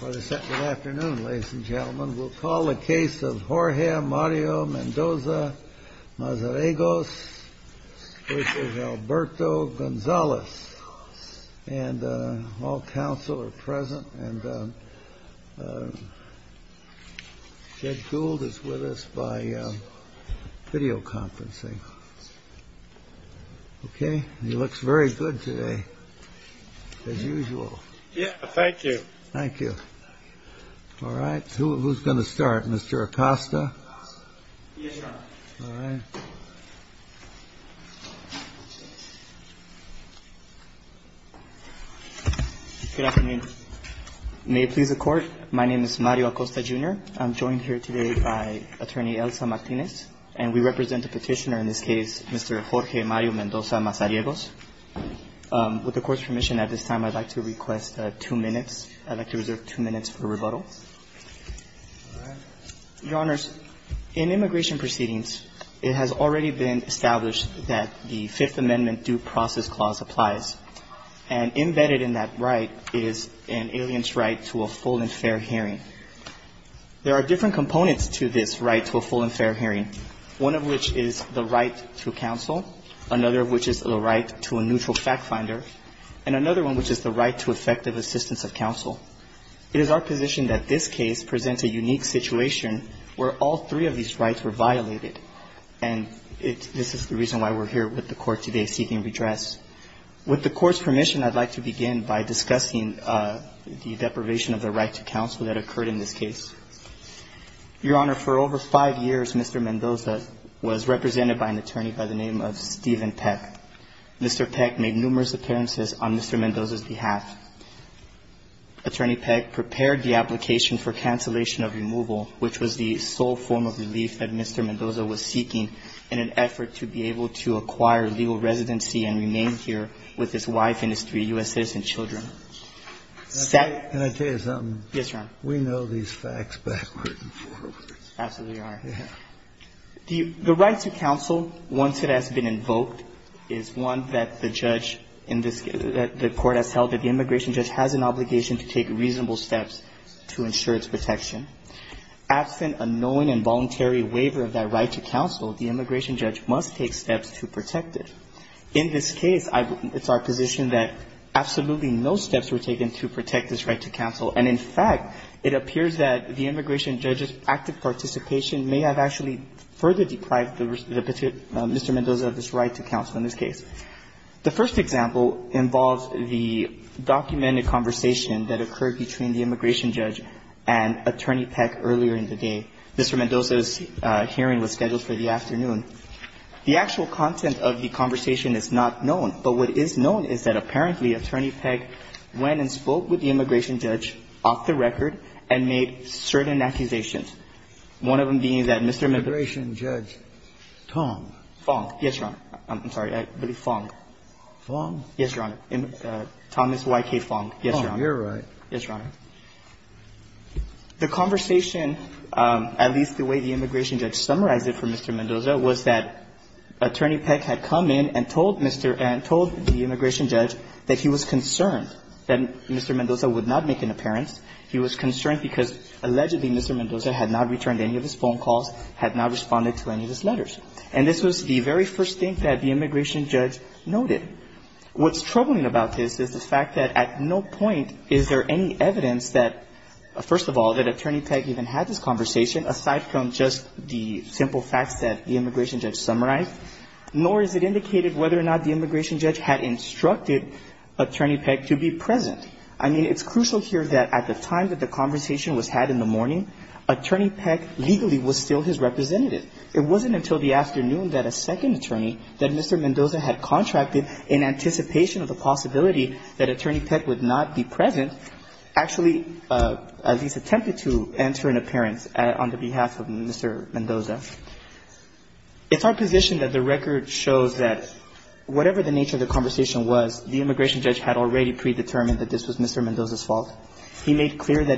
Good afternoon, ladies and gentlemen. We'll call the case of Jorge Mario Mendoza-Mazariegos which is Alberto Gonzales. And all counsel are present. And Ted Gould is with us by videoconferencing. Okay, he looks very good today, as usual. Yeah, thank you. Thank you. All right, who's going to start? Mr. Acosta? Yeah. All right. Good afternoon. May it please the Court, my name is Mario Acosta, Jr. I'm joined here today by Attorney Elsa Martinez. And we represent the petitioner in this case, Mr. Jorge Mario Mendoza-Mazariegos. With the Court's permission at this time, I'd like to request two minutes. I'd like to reserve two minutes for rebuttal. Your Honors, in immigration proceedings, it has already been established that the Fifth Amendment Due Process Clause applies. And embedded in that right is an alien's right to a full and fair hearing. There are different components to this right to a full and fair hearing. One of which is the right to counsel. Another of which is the right to a neutral fact finder. And another one which is the right to effective assistance of counsel. It is our position that this case presents a unique situation where all three of these rights are violated. And this is the reason why we're here with the Court today seeking redress. With the Court's permission, I'd like to begin by discussing the deprivation of the right to counsel that occurred in this case. Your Honor, for over five years, Mr. Mendoza was represented by an attorney by the name of Steven Peck. Mr. Peck made numerous appearances on Mr. Mendoza's behalf. Attorney Peck prepared the application for cancellation of removal, which was the sole form of relief that Mr. Mendoza was seeking in an effort to be able to acquire legal residency and remain here with his wife and his three U.S. citizen children. Can I tell you something? Yes, Your Honor. We know these facts backward and forward. Absolutely, Your Honor. The right to counsel, once it has been invoked, is one that the court has held that the immigration judge has an obligation to take reasonable steps to ensure its protection. Absent a known and voluntary waiver of that right to counsel, the immigration judge must take steps to protect it. In this case, it's our position that absolutely no steps were taken to protect this right to counsel. And, in fact, it appears that the immigration judge's active participation may have actually further deprived Mr. Mendoza of his right to counsel in this case. The first example involves the documented conversation that occurred between the immigration judge and Attorney Peck earlier in the day. Mr. Mendoza's hearing was scheduled for the afternoon. The actual content of the conversation is not known, but what is known is that apparently Attorney Peck went and spoke with the immigration judge off the record and made certain accusations. One of them being that Mr. Mendoza... Immigration judge. Tong. Fong. Yes, Your Honor. I'm sorry, I believe Fong. Fong? Yes, Your Honor. Thomas Y. K. Fong. Fong, you're right. Yes, Your Honor. The conversation, at least the way the immigration judge summarized it for Mr. Mendoza, was that Attorney Peck had come in and told the immigration judge that he was concerned that Mr. Mendoza would not make an appearance. He was concerned because allegedly Mr. Mendoza had not returned any of his phone calls, had not responded to any of his letters. And this was the very first thing that the immigration judge noted. What's troubling about this is the fact that at no point is there any evidence that, first of all, that Attorney Peck even had this conversation, aside from just the simple fact that the immigration judge summarized. Nor is it indicated whether or not the immigration judge had instructed Attorney Peck to be present. I mean, it's crucial here that at the time that the conversation was had in the morning, Attorney Peck legally was still his representative. It wasn't until the afternoon that a second attorney that Mr. Mendoza had contracted, in anticipation of the possibility that Attorney Peck would not be present, actually at least attempted to enter an appearance on the behalf of Mr. Mendoza. If our position that the record shows that whatever the nature of the conversation was, the immigration judge had already predetermined that this was Mr. Mendoza's fault. Let me change the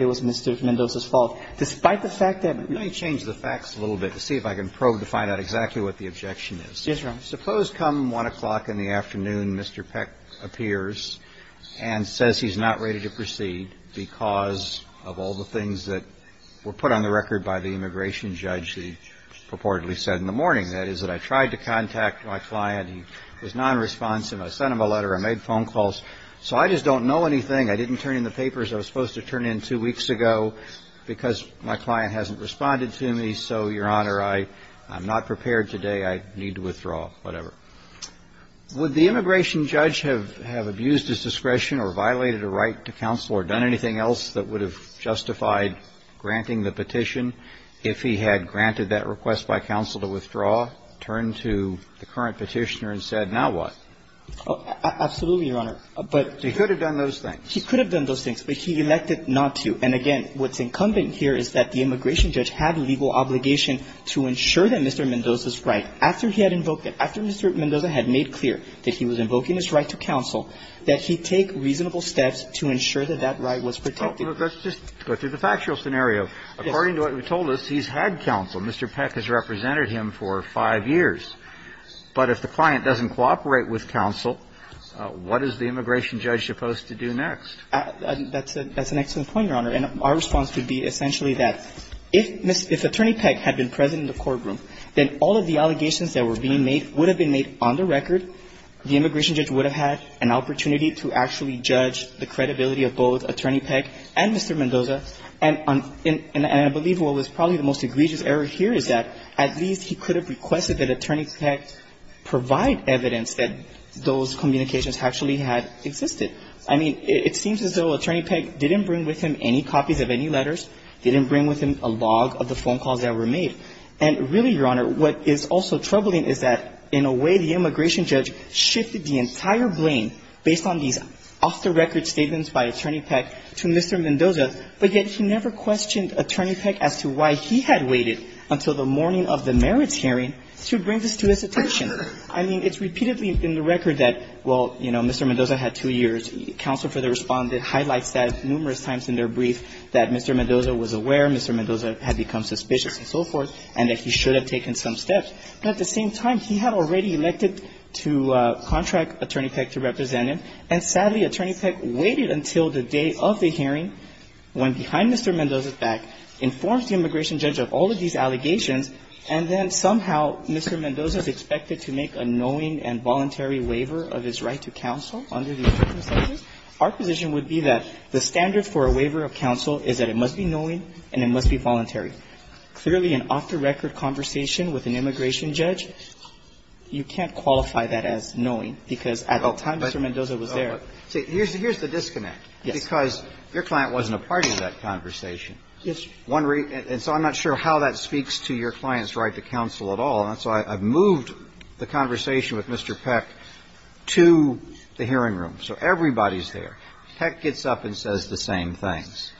facts a little bit to see if I can probe to find out exactly what the objection is. Suppose come 1 o'clock in the afternoon Mr. Peck appears and says he's not ready to proceed because of all the things that were put on the record by the immigration judge, he purportedly said in the morning. That is that I tried to contact my client. He was not responsive. I sent him a letter. I made phone calls. So I just don't know anything. I didn't turn in the papers I was supposed to turn in two weeks ago because my client hasn't responded to me. So, Your Honor, I'm not prepared today. I need to withdraw. Whatever. Would the immigration judge have abused his discretion or violated a right to counsel or done anything else that would have justified granting the petition? If he had granted that request by counsel to withdraw, turn to the current petitioner and said, now what? Absolutely, Your Honor. He could have done those things. He could have done those things, but he elected not to. And, again, what's incumbent here is that the immigration judge had legal obligation to ensure that Mr. Mendoza's right, after he had invoked it, after Mr. Mendoza had made clear that he was invoking his right to counsel, that he take reasonable steps to ensure that that right was protected. Let's just go through the factual scenario. According to what you told us, he's had counsel. Mr. Peck has represented him for five years. But if the client doesn't cooperate with counsel, what is the immigration judge supposed to do next? That's an excellent point, Your Honor. And our response would be essentially that if Attorney Peck had been present in the courtroom, then all of the allegations that were being made would have been made on the record. The immigration judge would have had an opportunity to actually judge the credibility of both Attorney Peck and Mr. Mendoza. And I believe what was probably the most egregious error here is that at least he could have requested that Attorney Peck provide evidence that those communications actually had existed. I mean, it seems as though Attorney Peck didn't bring with him any copies of any letters, didn't bring with him a log of the phone calls that were made. And, really, Your Honor, what is also troubling is that, in a way, the immigration judge shifted the entire blame based on the off-the-record statements by Attorney Peck to Mr. Mendoza but yet he never questioned Attorney Peck as to why he had waited until the morning of the merits hearing to bring this to his attention. I mean, it's repeatedly in the record that, well, you know, Mr. Mendoza had two years. Counsel for the Respondent highlights that numerous times in their brief that Mr. Mendoza was aware, Mr. Mendoza had become suspicious, and so forth, and that he should have taken some steps. But at the same time, he had already elected to contract Attorney Peck to represent him. And, sadly, Attorney Peck waited until the day of the hearing, went behind Mr. Mendoza's back, informed the immigration judge of all of these allegations, and then, somehow, Mr. Mendoza is expected to make a knowing and voluntary waiver of his right to counsel under the immigration statute. Our position would be that the standard for a waiver of counsel is that it must be knowing and it must be voluntary. So, really, an off-the-record conversation with an immigration judge, you can't qualify that as knowing because at the time Mr. Mendoza was there. Here's the disconnect, because your client wasn't a part of that conversation. Yes. And so I'm not sure how that speaks to your client's right to counsel at all. And so I've moved the conversation with Mr. Peck to the hearing room. So everybody's there. Peck gets up and says the same things.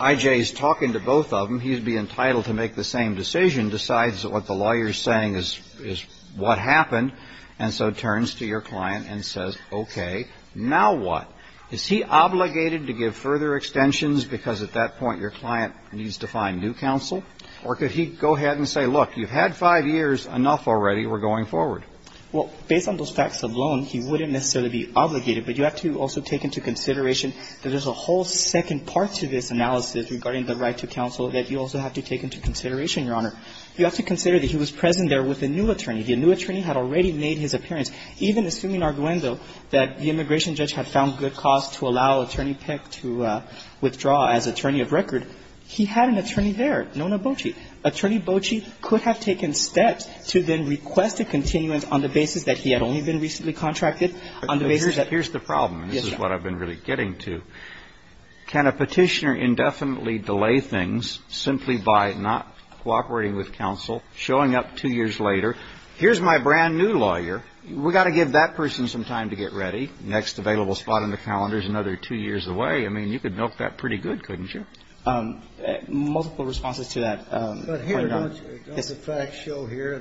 I.J.'s talking to both of them. He'd be entitled to make the same decision, decides that what the lawyer's saying is what happened. And so he turns to your client and says, okay, now what? Is he obligated to give further extensions because at that point your client needs to find new counsel? Or could he go ahead and say, look, you've had five years. Enough already. We're going forward. Well, based on those facts alone, he wouldn't necessarily be obligated. But you have to also take into consideration that there's a whole second part to this analysis regarding the right to counsel that you also have to take into consideration, Your Honor. You have to consider that he was present there with a new attorney. The new attorney had already made his appearance. Even assuming, Arduendo, that the immigration judge had found good cause to allow Attorney Peck to withdraw as attorney of record, he had an attorney there, Nona Bochy. Attorney Bochy could have taken steps to then request a continuance on the basis that he had only been recently contracted. Here's the problem. This is what I've been really getting to. Can a petitioner indefinitely delay things simply by not cooperating with counsel, showing up two years later? Here's my brand-new lawyer. We've got to give that person some time to get ready. Next available spot on the calendar is another two years away. I mean, you could milk that pretty good, couldn't you? Multiple responses to that. But here, the facts show here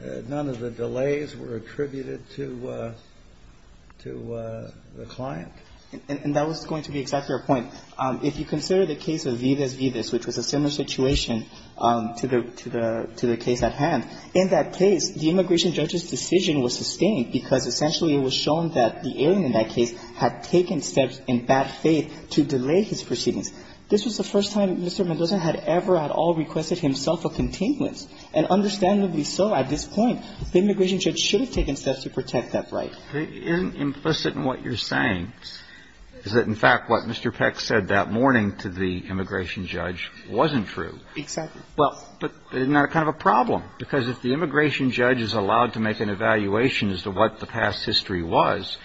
that none of the delays were attributed to the client. And that was going to be exactly our point. If you consider the case of Vivas-Vivas, which was a similar situation to the case at hand, in that case, the immigration judge's decision was sustained because essentially it was shown that the alien in that case had taken steps in bad faith to delay his proceedings. This was the first time Mr. Mendoza had ever at all requested himself a continuance. And understandably so at this point. The immigration judge should have taken steps to protect that right. Implicit in what you're saying is that, in fact, what Mr. Peck said that morning to the immigration judge wasn't true. But isn't that kind of a problem? Because if the immigration judge is allowed to make an evaluation as to what the past history was,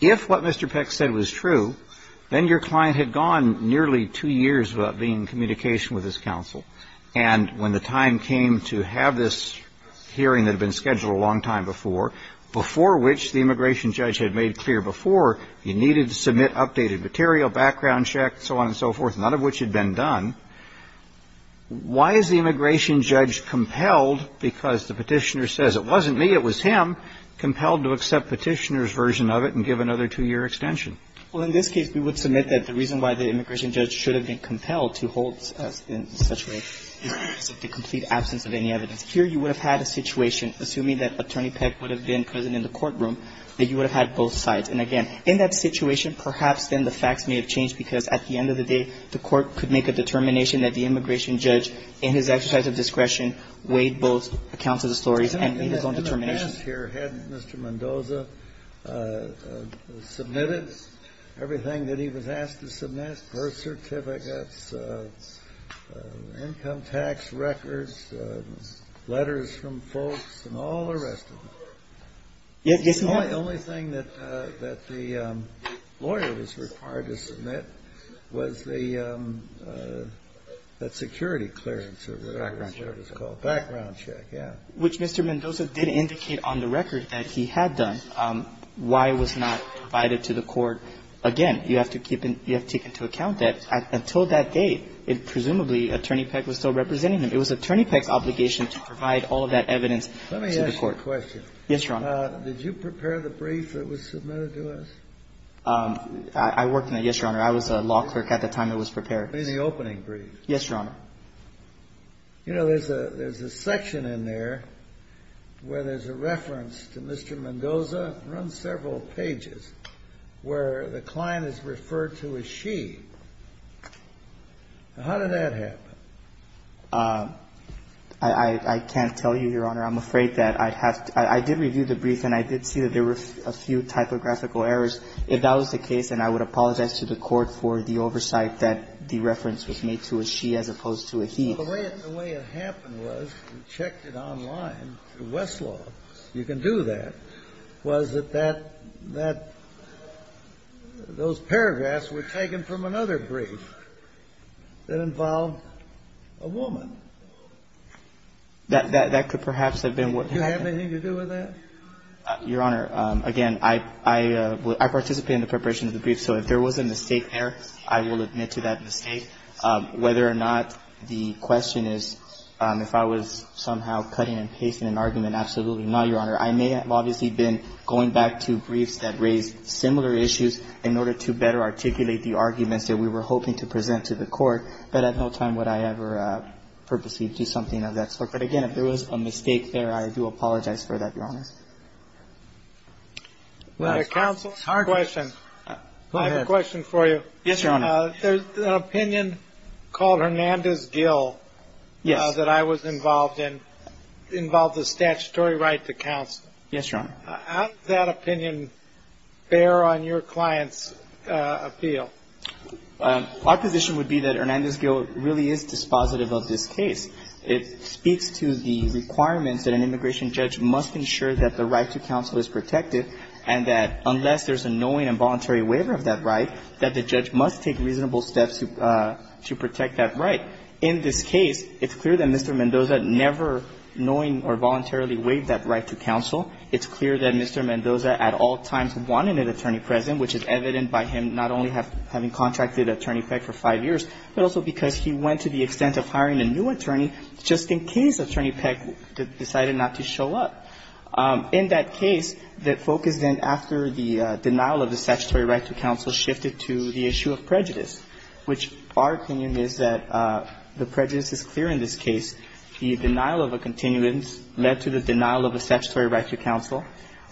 If what Mr. Peck said was true, then your client had gone nearly two years without being in communication with his counsel. And when the time came to have this hearing that had been scheduled a long time before, before which the immigration judge had made clear before he needed to submit updated material, background check, so on and so forth, none of which had been done, Why is the immigration judge compelled, because the petitioner says it wasn't me, it was him, compelled to accept the petitioner's version of it and give another two-year extension? Well, in this case, we would submit that the reason why the immigration judge should have been compelled to hold such a case is the complete absence of any evidence. Here you would have had a situation, assuming that Attorney Peck would have been present in the courtroom, that you would have had both sides. And again, in that situation, perhaps then the facts may have changed because at the end of the day, the court could make a determination that the immigration judge, in his exercise of discretion, weighed both accounts of the stories and made his own determination. Had Mr. Mendoza submitted everything that he was asked to submit, birth certificates, income tax records, letters from folks, and all the rest of it? Yes, he had. The only thing that the lawyer was required to submit was the security clearance, or whatever it was called. Background check. Background check, yes. Which Mr. Mendoza did indicate on the record that he had done. Why was not provided to the court? Again, you have to take into account that until that date, presumably, Attorney Peck was still representing him. It was Attorney Peck's obligation to provide all of that evidence to the court. Let me ask a question. Yes, Your Honor. Did you prepare the brief that was submitted to us? I worked on it, yes, Your Honor. I was a law clerk at the time it was prepared. You mean the opening brief? Yes, Your Honor. You know, there's a section in there where there's a reference to Mr. Mendoza. It runs several pages where the client is referred to as she. How did that happen? I can't tell you, Your Honor. I'm afraid that I did review the brief, and I did see that there were a few typographical errors. If that was the case, then I would apologize to the court for the oversight that the reference was made to a she as opposed to a he. The way it happened was we checked it online through Westlaw. You can do that. It was that those paragraphs were taken from another brief that involved a woman. That could perhaps have been what happened. Do you have anything to do with that? Your Honor, again, I participated in the preparation of the brief, so if there was a mistake there, I will admit to that mistake. Whether or not the question is if I was somehow cutting and pasting an argument, absolutely not, Your Honor. I may have obviously been going back to briefs that raised similar issues in order to better articulate the arguments that we were hoping to present to the court, but at no time would I ever purposely do something of that sort. But, again, if there was a mistake there, I do apologize for that, Your Honor. Counsel, I have a question for you. Yes, Your Honor. There's an opinion called Hernandez-Gill that I was involved in. It involves a statutory right to counsel. Yes, Your Honor. How does that opinion bear on your client's appeal? Our position would be that Hernandez-Gill really is dispositive of this case. It speaks to the requirement that an immigration judge must ensure that the right to counsel is protected, and that unless there's a knowing and voluntary waiver of that right, that the judge must take reasonable steps to protect that right. In this case, it's clear that Mr. Mendoza never knowing or voluntarily waived that right to counsel. It's clear that Mr. Mendoza at all times wanted an attorney present, which is evident by him not only having contracted Attorney Peck for five years, but also because he went to the extent of hiring a new attorney just in case Attorney Peck decided not to show up. In that case, the focus then after the denial of the statutory right to counsel shifted to the issue of prejudice, which our opinion is that the prejudice is clear in this case. The denial of a continuance led to the denial of a statutory right to counsel,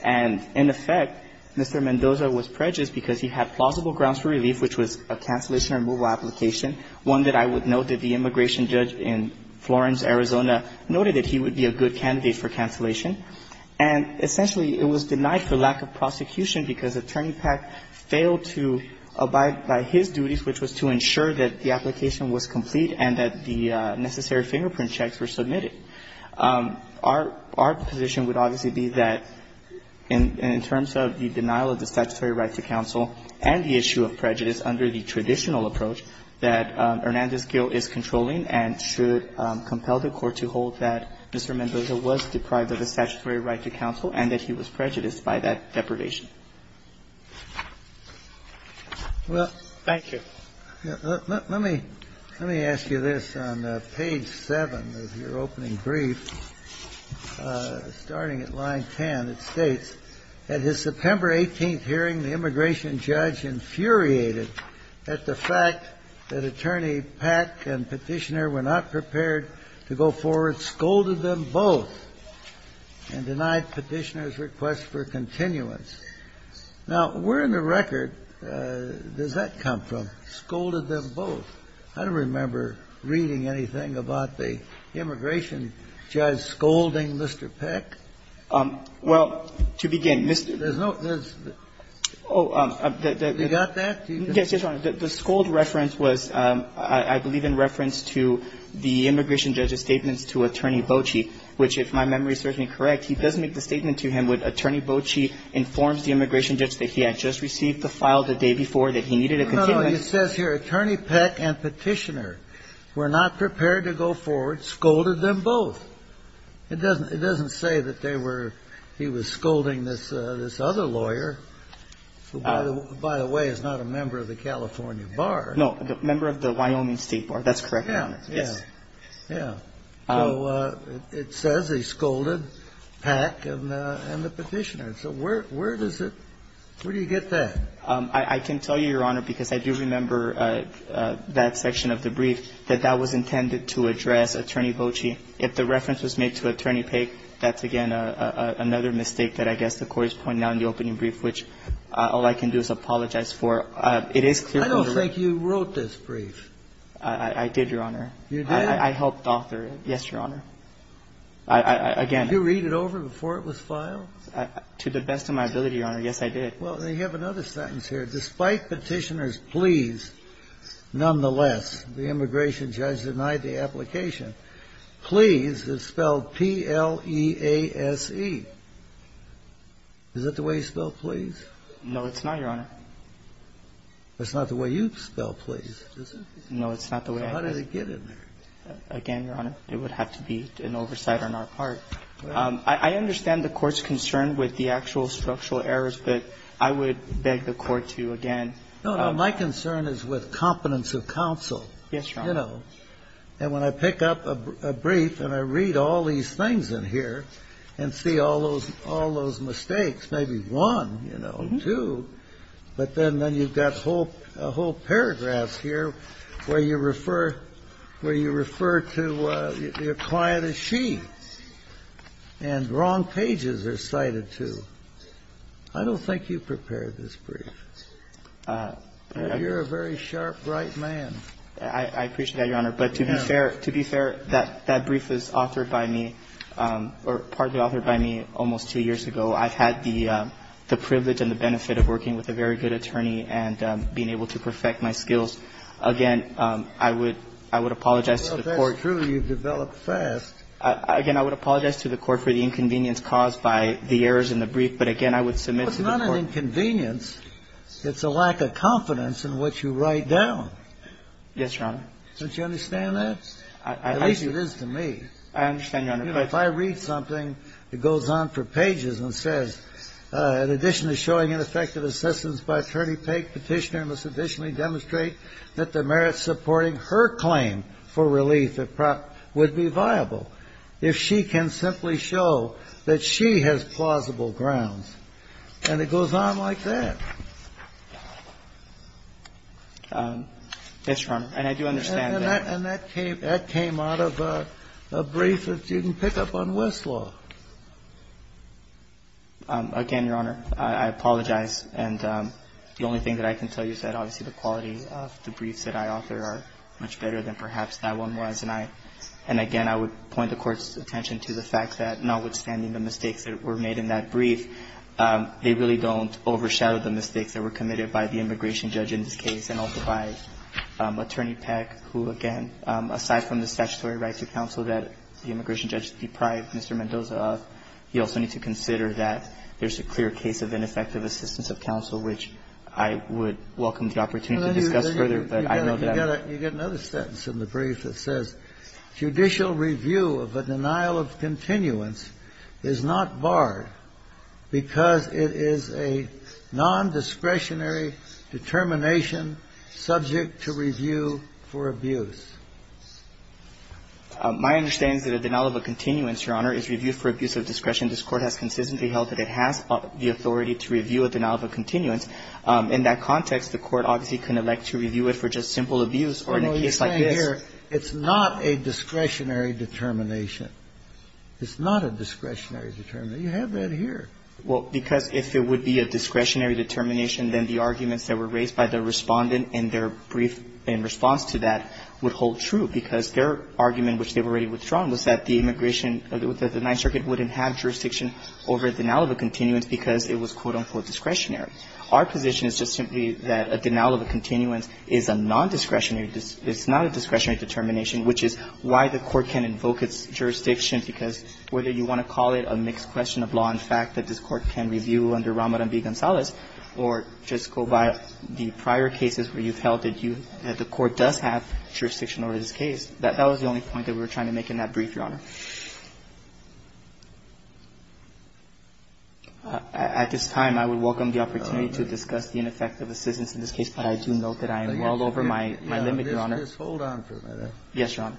and in effect, Mr. Mendoza was prejudiced because he had plausible grounds for relief, which was a cancellation or removal application, one that I would note that the immigration judge in Florence, Arizona, noted that he would be a good candidate for cancellation. And essentially, it was denied for lack of prosecution because Attorney Peck failed to abide by his duties, which was to ensure that the application was complete and that the necessary fingerprint checks were submitted. Our position would obviously be that in terms of the denial of the statutory right to counsel and the issue of prejudice under the traditional approach, that Hernandez-Gill is controlling and should compel the court to hold that Mr. Mendoza was deprived of the statutory right to counsel and that he was prejudiced by that depredation. Thank you. Let me ask you this. On page seven of your opening brief, starting at line 10, it states, at his September 18th hearing, the immigration judge infuriated at the fact that Attorney Peck and Petitioner were not prepared to go forward, but scolded them both and denied Petitioner's request for continuance. Now, where in the record does that come from, scolded them both? I don't remember reading anything about the immigration judge scolding Mr. Peck. Well, to begin, Mr. – There's no – oh, you got that? Yes, Your Honor, the scold reference was, I believe, in reference to the immigration judge's statement to Attorney Boachie, which, if my memory serves me correct, he does make the statement to him when Attorney Boachie informs the immigration judge that he had just received the files the day before that he needed a continuance. No, no, it says here, Attorney Peck and Petitioner were not prepared to go forward, scolded them both. It doesn't say that they were – he was scolding this other lawyer, who, by the way, is not a member of the California Bar. No, a member of the Wyoming State Bar, that's correct, Your Honor. Yeah, yeah, yeah. So it says he scolded Peck and the Petitioner, so where does it – where do you get that? I can tell you, Your Honor, because I do remember that section of the brief, that that was intended to address Attorney Boachie. If the reference was made to Attorney Peck, that's, again, another mistake that I guess the court is pointing out in the opening brief, which all I can do is apologize for. I don't think you wrote this brief. I did, Your Honor. You did? I helped author it, yes, Your Honor. Did you read it over before it was filed? To the best of my ability, Your Honor, yes, I did. Well, you have another sentence here. Despite Petitioner's pleas, nonetheless, the immigration judge denied the application. Please is spelled P-L-E-A-S-E. Is that the way you spell please? No, it's not, Your Honor. That's not the way you spell please, is it? No, it's not the way I spell it. How did it get in there? Again, Your Honor, it would have to be an oversight on our part. I understand the court's concern with the actual structural errors, but I would beg the court to, again ---- No, no, my concern is with competence of counsel. Yes, Your Honor. You know, and when I pick up a brief and I read all these things in here and see all those mistakes, maybe one, you know, two, but then you've got a whole paragraph here where you refer to your client as she, and wrong pages are cited, too. I don't think you prepared this brief. You're a very sharp, bright man. I appreciate that, Your Honor, but to be fair, that brief was authored by me or partly authored by me almost two years ago. I've had the privilege and the benefit of working with a very good attorney and being able to perfect my skills. Again, I would apologize to the court ---- Well, if that's true, you've developed fast. Again, I would apologize to the court for the inconvenience caused by the errors in the brief, but again, I would submit to the court ---- It's not an inconvenience. It's a lack of confidence in what you write down. Yes, Your Honor. Don't you understand that? At least it is to me. I understand, Your Honor. Anyway, if I read something, it goes on for pages and says, in addition to showing ineffective assessments by attorney, Petitioner must additionally demonstrate that the merits supporting her claim for relief would be viable if she can simply show that she has plausible grounds. And it goes on like that. Yes, Your Honor, and I do understand that. And that came out of a brief that she didn't pick up on Westlaw. Again, Your Honor, I apologize. And the only thing that I can tell you is that obviously the quality of the briefs that I offer are much better than perhaps that one was. And again, I would point the court's attention to the fact that notwithstanding the mistakes that were made in that brief, they really don't overshadow the mistakes that were committed by the immigration judge in this case and also by Attorney Peck, who, again, aside from the statutory right to counsel that the immigration judge deprived Mr. Mendoza of, he also needs to consider that there's a clear case of ineffective assistance of counsel, which I would welcome the opportunity to discuss further. You get another sentence in the brief that says, Judicial review of a denial of continuance is not barred because it is a nondiscretionary determination subject to review for abuse. My understanding is that a denial of a continuance, Your Honor, is reviewed for abuse of discretion. This court has consistently held that it has the authority to review a denial of a continuance. In that context, the court obviously can elect to review it for just simple abuse or in a case like this. No, you're saying here it's not a discretionary determination. It's not a discretionary determination. You have that here. Well, because if it would be a discretionary determination, then the arguments that were raised by the respondent in their brief in response to that would hold true because their argument, which they were able to strong, was that the Ninth Circuit wouldn't have jurisdiction over a denial of a continuance because it was, quote-unquote, discretionary. Our position is just simply that a denial of a continuance is a nondiscretionary determination, which is why the court can't invoke its jurisdiction because whether you want to call it a mixed question of law and fact that this court can review under Ramadan v. Gonzalez or just go by the prior cases where you've held that the court does have jurisdiction over this case, that was the only point that we were trying to make in that brief, Your Honor. At this time, I would welcome the opportunity to discuss the ineffectiveness of this case, but I do note that I am well over my limit, Your Honor. Just hold on for a minute. Yes, Your Honor.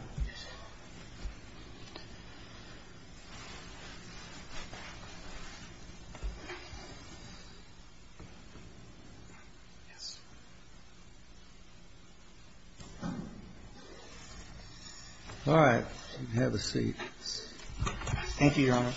All right. You can have a seat. Thank you, Your Honor.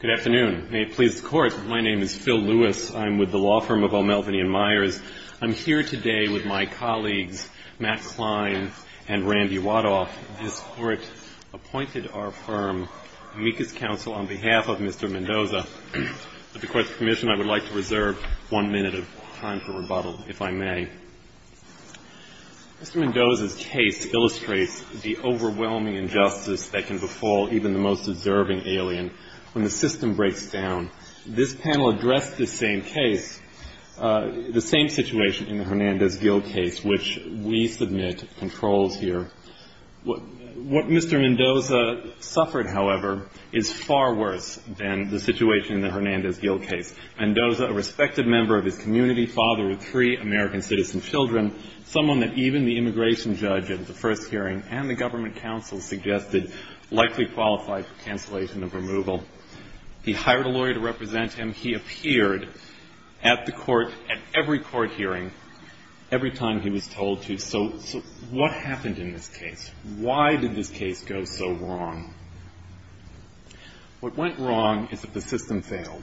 Good afternoon. May it please the Court, my name is Phil Lewis. I'm with the law firm of O'Melveny & Myers. I'm here today with my colleagues, Matt Klein and Randy Wadoff. This court appointed our firm to meet this counsel on behalf of Mr. Mendoza. At the Court's permission, I would like to reserve one minute of time for rebuttal, if I may. Mr. Mendoza's case illustrates the overwhelming injustice that can befall even the most deserving alien when the system breaks down. This panel addressed this same case, the same situation in the Hernandez-Gil case, which we submit controls here. What Mr. Mendoza suffered, however, is far worse than the situation in the Hernandez-Gil case. Mr. Mendoza, a respected member of his community, father of three American citizen children, someone that even the immigration judge at the first hearing and the government counsel suggested likely qualifies for cancellation of removal. He hired a lawyer to represent him. He appeared at every court hearing every time he was told to. So what happened in this case? Why did this case go so wrong? What went wrong is that the system failed.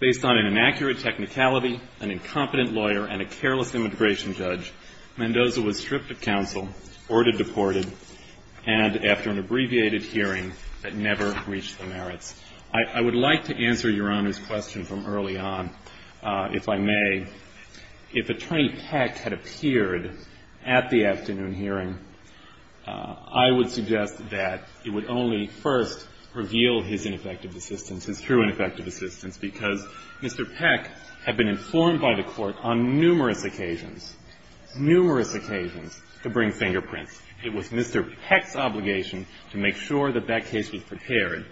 Based on an inaccurate technicality, an incompetent lawyer, and a careless immigration judge, Mendoza was stripped of counsel, ordered deported, and after an abbreviated hearing that never reached the merits. I would like to answer Your Honor's question from early on, if I may. If Attorney Peck had appeared at the afternoon hearing, I would suggest that he would only first reveal his ineffective assistance and true ineffective assistance because Mr. Peck had been informed by the court on numerous occasions, numerous occasions, to bring fingerprints. It was Mr. Peck's obligation to make sure that that case was prepared.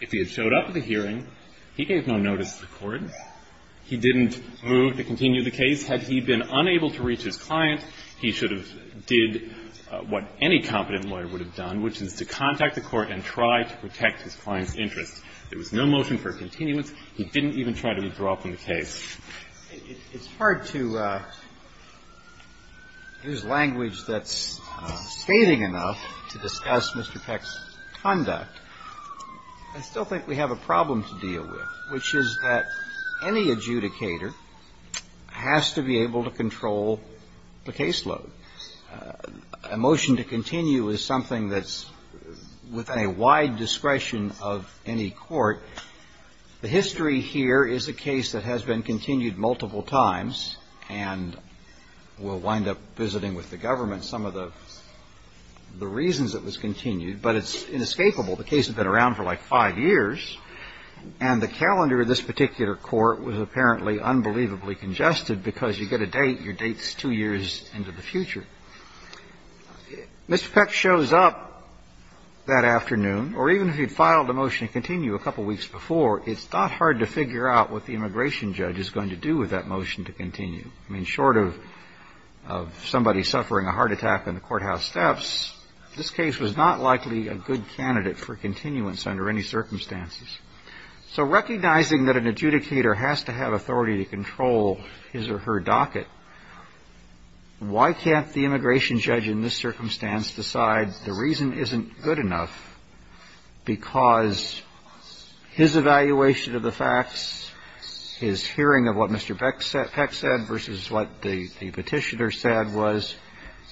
If he had showed up at the hearing, he gave no notice to the court. He didn't move to continue the case. Had he been unable to reach his client, he should have did what any competent lawyer would have done, which is to contact the court and try to protect his client's interest. There was no motion for a continuance. He didn't even try to withdraw from the case. It's hard to use language that's stating enough to discuss Mr. Peck's conduct. I still think we have a problem to deal with, which is that any adjudicator has to be able to control the caseload. A motion to continue is something that's within a wide discretion of any court. The history here is a case that has been continued multiple times, and we'll wind up visiting with the government some of the reasons it was continued, but it's inescapable. The case has been around for like five years, and the calendar of this particular court was apparently unbelievably congested because you get a date, your date's two years into the future. Mr. Peck shows up that afternoon, or even if he'd filed a motion to continue a couple weeks before, it's not hard to figure out what the immigration judge is going to do with that motion to continue. I mean, short of somebody suffering a heart attack in the courthouse steps, this case was not likely a good candidate for continuance under any circumstances. So recognizing that an adjudicator has to have authority to control his or her docket, why can't the immigration judge in this circumstance decide the reason isn't good enough because his evaluation of the facts, his hearing of what Mr. Peck said versus what the petitioner said was,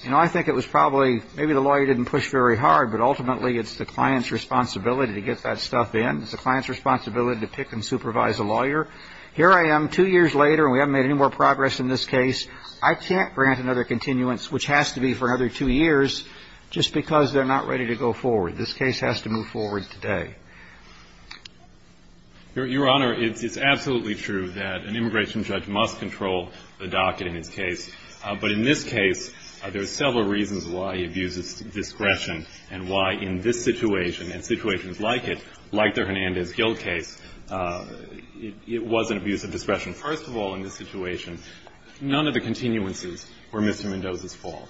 you know, I think it was probably maybe the lawyer didn't push very hard, but ultimately it's the client's responsibility to get that stuff in. It's the client's responsibility to pick and supervise a lawyer. Here I am two years later, and we haven't made any more progress in this case. I can't grant another continuance, which has to be for another two years, just because they're not ready to go forward. This case has to move forward today. Your Honor, it's absolutely true that an immigration judge must control the docket in this case, but in this case there are several reasons why he abuses discretion and why in this situation and situations like it, like the Hernandez-Gil case, it wasn't abuse of discretion. First of all, in this situation, none of the continuances were Mr. Mendoza's fault.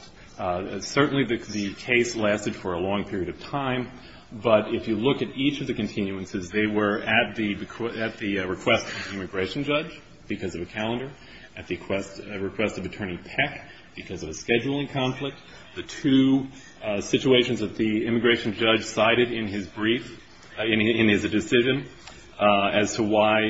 Certainly the case lasted for a long period of time, but if you look at each of the continuances, they were at the request of the immigration judge because of the calendar, at the request of Attorney Peck because of the scheduling conflicts, the two situations that the immigration judge cited in his brief, in his decision, as to why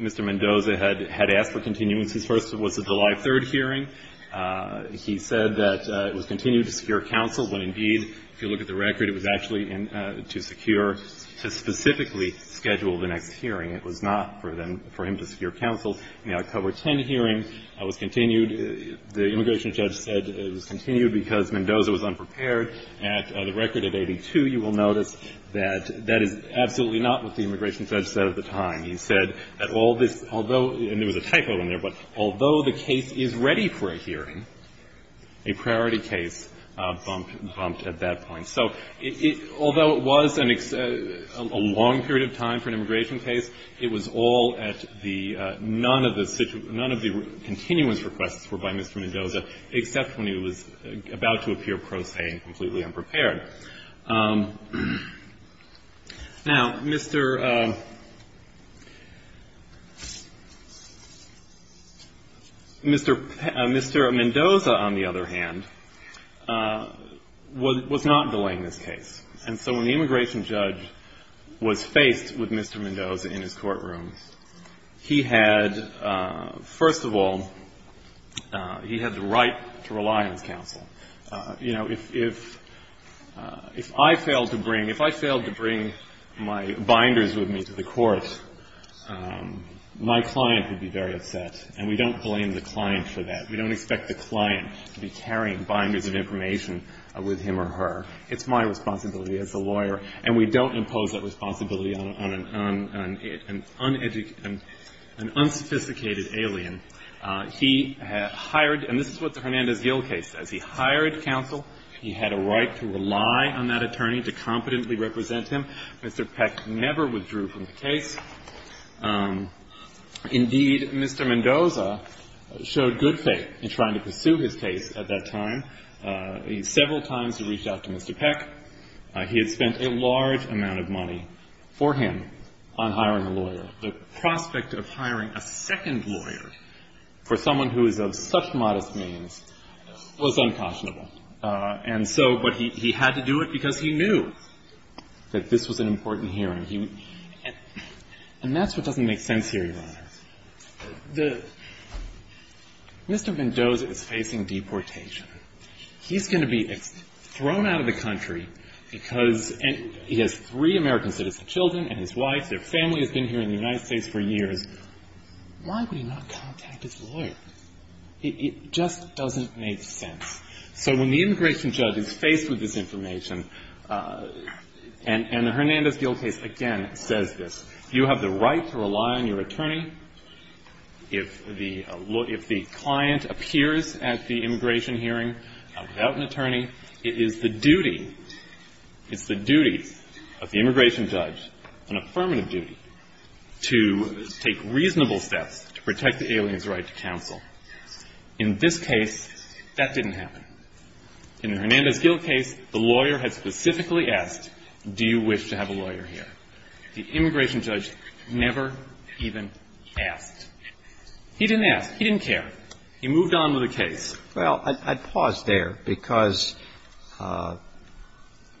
Mr. Mendoza had asked for continuance. His first was the July 3rd hearing. He said that it was continued to secure counsel, when indeed, if you look at the record, it was actually to secure, to specifically schedule the next hearing. It was not for him to secure counsel. The October 10 hearing was continued. The immigration judge said it was continued because Mendoza was unprepared. At a record of 82, you will notice that that is absolutely not what the immigration judge said at the time. He said that although the case is ready for a hearing, a priority case bumped at that point. So although it was a long period of time for an immigration case, it was all at the none of the continuance requests were by Mr. Mendoza, except when he was about to appear pro se and completely unprepared. Now, Mr. Mendoza, on the other hand, was not delaying this case. And so when the immigration judge was faced with Mr. Mendoza in his courtroom, he had, first of all, he had the right to rely on counsel. You know, if I failed to bring my binders with me to the court, my client would be very upset, and we don't blame the client for that. We don't expect the client to be carrying binders of information with him or her. It's my responsibility as a lawyer, and we don't impose that responsibility on an uneducated, an unsophisticated alien. He had hired, and this is what the Hernandez-Gil case says, he hired counsel. He had a right to rely on that attorney to competently represent him. Mr. Peck never withdrew from the case. Indeed, Mr. Mendoza showed good faith in trying to pursue his case at that time. He several times reached out to Mr. Peck. He had spent a large amount of money for him on hiring a lawyer. The prospect of hiring a second lawyer for someone who is of such modest means was unconscionable. And so, but he had to do it because he knew that this was an important hearing. And that's what doesn't make sense here, your Honor. Mr. Mendoza is facing deportation. He's going to be thrown out of the country because he has three American citizen children and his wife, their family has been here in the United States for years. Why would he not contact his lawyer? It just doesn't make sense. So when the immigration judge is faced with this information, and the Hernandez-Gil case again says this, you have the right to rely on your attorney. And it is the duty, it's the duty of the immigration judge, an affirmative duty, to take reasonable steps to protect the alien's right to counsel. In this case, that didn't happen. In the Hernandez-Gil case, the lawyer had specifically asked, do you wish to have a lawyer here? The immigration judge never even asked. He didn't ask. He didn't care. He moved on with the case. Well, I'd pause there because a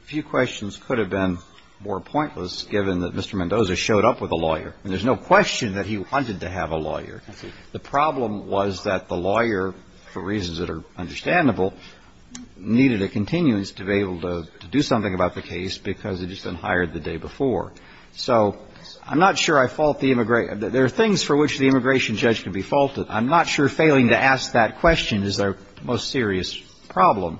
few questions could have been more pointless, given that Mr. Mendoza showed up with a lawyer. There's no question that he wanted to have a lawyer. The problem was that the lawyer, for reasons that are understandable, needed to continue to be able to do something about the case because he'd just been hired the day before. So I'm not sure I fault the immigration judge. There are things for which the immigration judge could be faulted. I'm not sure failing to ask that question is their most serious problem.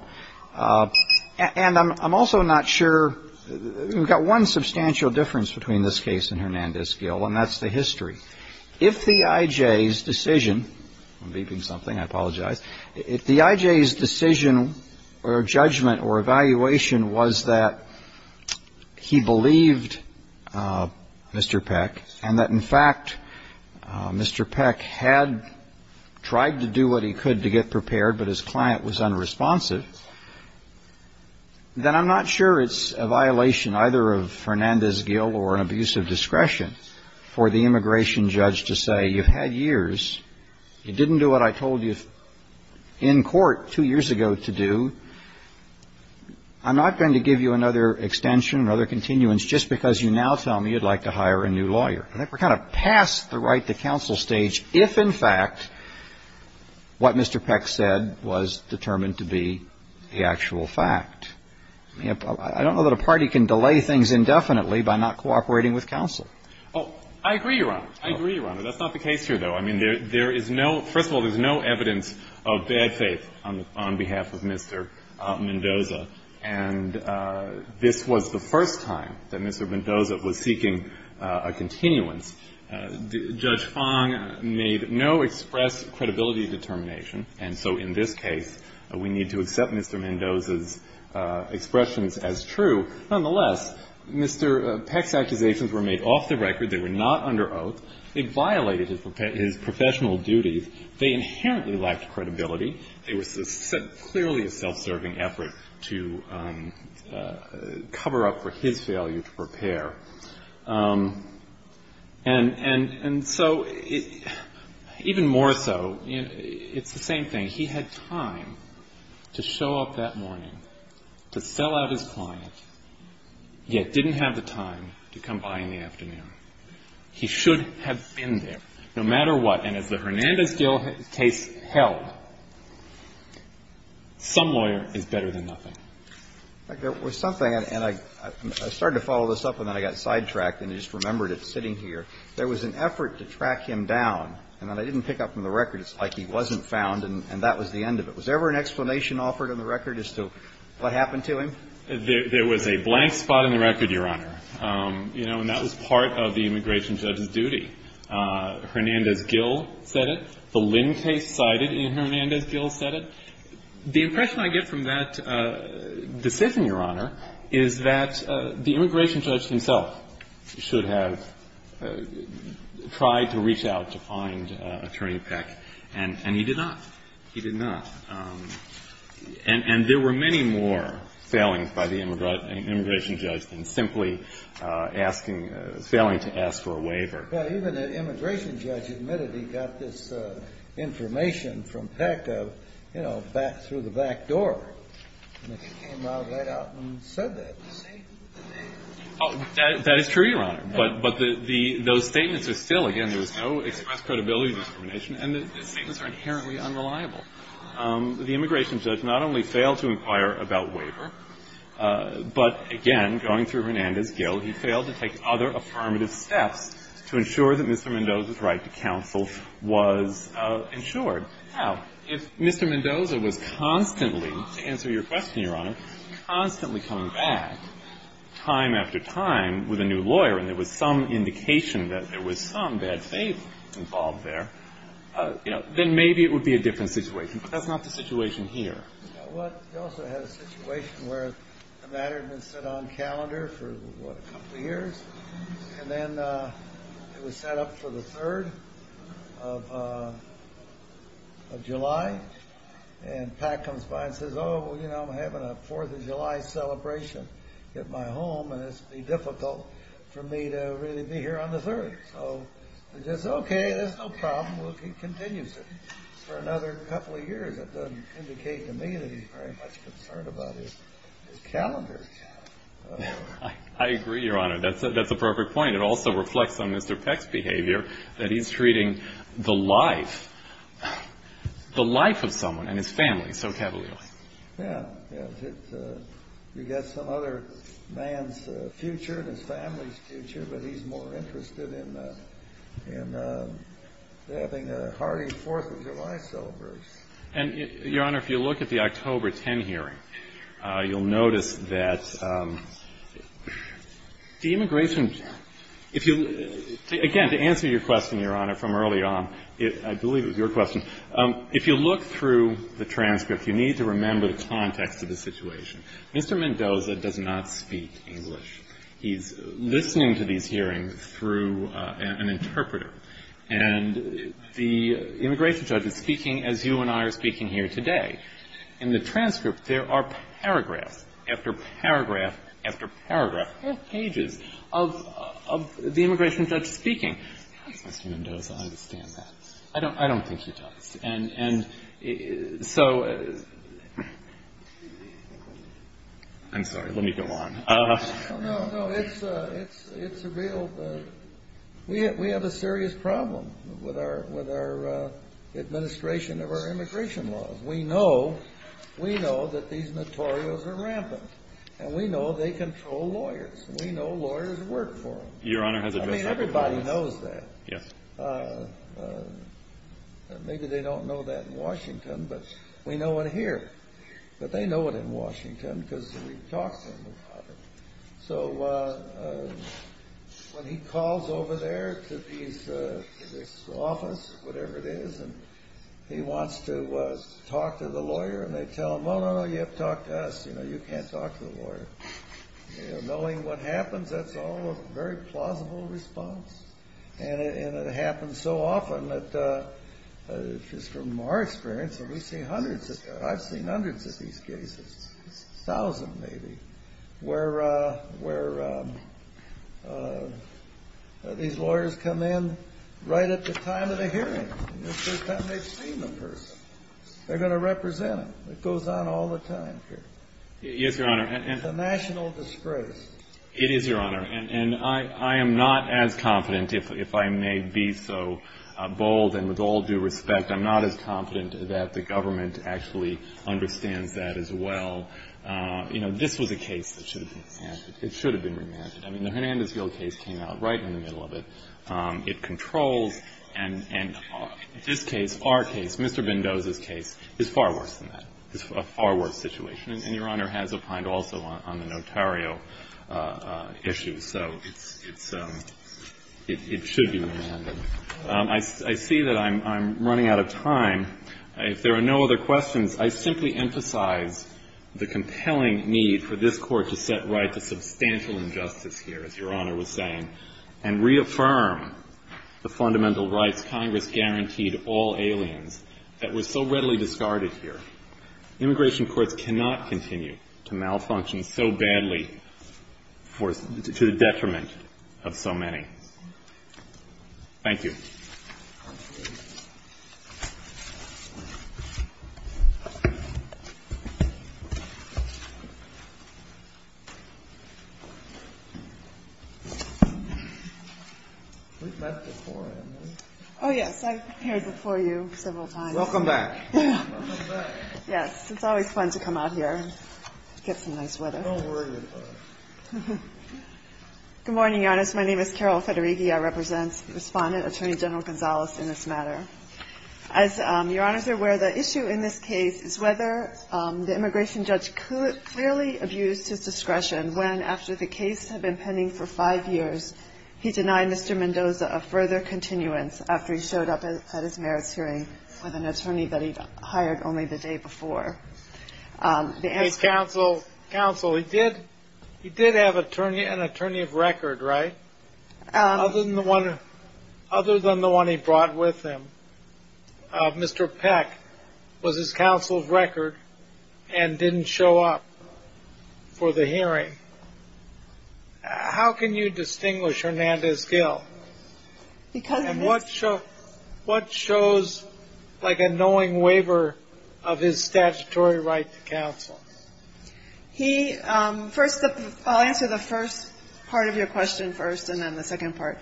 And I'm also not sure, we've got one substantial difference between this case and Hernandez-Gil, and that's the history. If the IJ's decision, I'm beeping something, I apologize. If the IJ's decision or judgment or evaluation was that he believed Mr. Peck and that, in fact, Mr. Peck had tried to do what he could to get prepared, but his client was unresponsive, then I'm not sure it's a violation either of Hernandez-Gil or an abuse of discretion for the immigration judge to say, you've had years, you didn't do what I told you in court two years ago to do, I'm not going to give you another extension or other continuance just because you now tell me you'd like to hire a new lawyer. We're kind of past the right to counsel stage if, in fact, what Mr. Peck said was determined to be the actual fact. I don't know that a party can delay things indefinitely by not cooperating with counsel. Oh, I agree, Your Honor. I agree, Your Honor. That's not the case here, though. I mean, there is no, first of all, there's no evidence of bad faith on behalf of Mr. Mendoza, and this was the first time that Mr. Mendoza was seeking a continuance. Judge Fong made no express credibility determination, and so in this case, we need to accept Mr. Mendoza's expressions as true. Nonetheless, Mr. Peck's accusations were made off the record. They were not under oath. It violated his professional duties. They inherently lacked credibility. It was clearly a self-serving effort to cover up for his failure to prepare. And so, even more so, it's the same thing. Mr. Mendoza, to show up that morning, to sell out his client, yet didn't have the time to come by in the afternoon. He should have been there no matter what, and as the Hernandez case held, some lawyer is better than nothing. In fact, there was something, and I started to follow this up, and then I got sidetracked, and I just remembered it sitting here. There was an effort to track him down, and they didn't pick up from the record. It's like he wasn't found, and that was the end of it. Was there ever an explanation offered in the record as to what happened to him? There was a blank spot in the record, Your Honor, and that was part of the immigration judge's duty. Hernandez-Gill said it. The Lindt case cited it, and Hernandez-Gill said it. The impression I get from that decision, Your Honor, is that the immigration judge himself should have tried to reach out to find Attorney Peck, and he did not. He did not. And there were many more failings by the immigration judge than simply failing to ask for a waiver. Well, even the immigration judge admitted he got this information from Peck through the back door, and he came right out and said that. That is true, Your Honor, but those statements are still, again, there is no express credibility of the information, and the statements are inherently unreliable. The immigration judge not only failed to inquire about waiver, but again, going through Hernandez-Gill, he failed to take other affirmative steps to ensure that Mr. Mendoza's right to counsel was ensured. Now, if Mr. Mendoza was constantly, to answer your question, Your Honor, constantly coming back time after time with a new lawyer, and there was some indication that there was some that had faith involved there, then maybe it would be a different situation. But that's not the situation here. Well, we also had a situation where the matter had been set on calendar for a couple of years, and then it was set up for the 3rd of July, and Peck comes by and says, oh, you know, I'm having a 4th of July celebration at my home, and it's going to be difficult for me to really be here on the 3rd. So he says, okay, that's no problem. He continues it for another couple of years. It doesn't indicate to me that he's very much concerned about his calendar. I agree, Your Honor. That's an appropriate point. It also reflects on Mr. Peck's behavior that he's treating the life, the life of someone and his family, so cavalierly. Yeah. You've got some other man's future, his family's future, but he's more interested in having a hearty 4th of July celebration. And, Your Honor, if you look at the October 10 hearing, you'll notice that the immigration, if you, again, to answer your question, Your Honor, from early on, I believe it was your question, if you look through the transcript, you need to remember the context of the situation. Mr. Mendoza does not speak English. He's listening to these hearings through an interpreter. And the immigration judge is speaking as you and I are speaking here today. In the transcript, there are paragraph after paragraph after paragraph, full pages of the immigration judge speaking. I don't think so. And so, I'm sorry, let me go on. No, no, it's a real, we have a serious problem with our administration of our immigration laws. We know, we know that these notorious are rampant. And we know they control lawyers. We know lawyers work for them. I mean, everybody knows that. Maybe they don't know that in Washington, but we know it here. But they know it in Washington because we've talked to them about it. So, when he calls over there to his office, whatever it is, and he wants to talk to the lawyer, and they tell him, Oh, no, no, you have to talk to us. You know, you can't talk to the lawyer. Knowing what happens, that's all a very plausible response. And it happens so often that, just from our experience, we've seen hundreds of, I've seen hundreds of these cases, thousands maybe, where these lawyers come in right at the time of the hearing. It's the time they've seen the person. They're going to represent them. It goes on all the time here. Yes, Your Honor. It's a national disgrace. It is, Your Honor. And I am not as confident, if I may be so bold and with all due respect, I'm not as confident that the government actually understands that as well. You know, this was a case that should have been remanded. I mean, the Hernandez-Gil case came out right in the middle of it. It controlled. And this case, our case, Mr. Bindo's case, is far worse than that. It's a far worse situation. And Your Honor has opined also on the notarial issue. So it should be remanded. I see that I'm running out of time. If there are no other questions, I simply emphasize the compelling need for this Court to set right the substantial injustice here, as Your Honor was saying, and reaffirm the fundamental rights Congress guaranteed all aliens that were so readily discarded here. The Immigration Court cannot continue to malfunction so badly to the detriment of so many. Thank you. Oh, yes, I was here before you several times. Welcome back. Welcome back. Yes, it's always fun to come out here and get some nice weather. Don't worry about it. Good morning, Your Honor. My name is Carol Federighi. I represent Respondent Attorney General Gonzalez in this matter. As Your Honor is aware, the issue in this case is whether the immigration judge clearly abused his discretion when, after the case had been pending for five years, he denied Mr. Mendoza a further continuance after he showed up at his merits hearing with an attorney that he'd hired only the day before. Counsel, he did have an attorney of record, right? Other than the one he brought with him, Mr. Peck was his counsel's record and didn't show up for the hearing. How can you distinguish Hernandez-Gil? And what shows, like, a knowing waiver of his statutory right to counsel? First, I'll answer the first part of your question first and then the second part.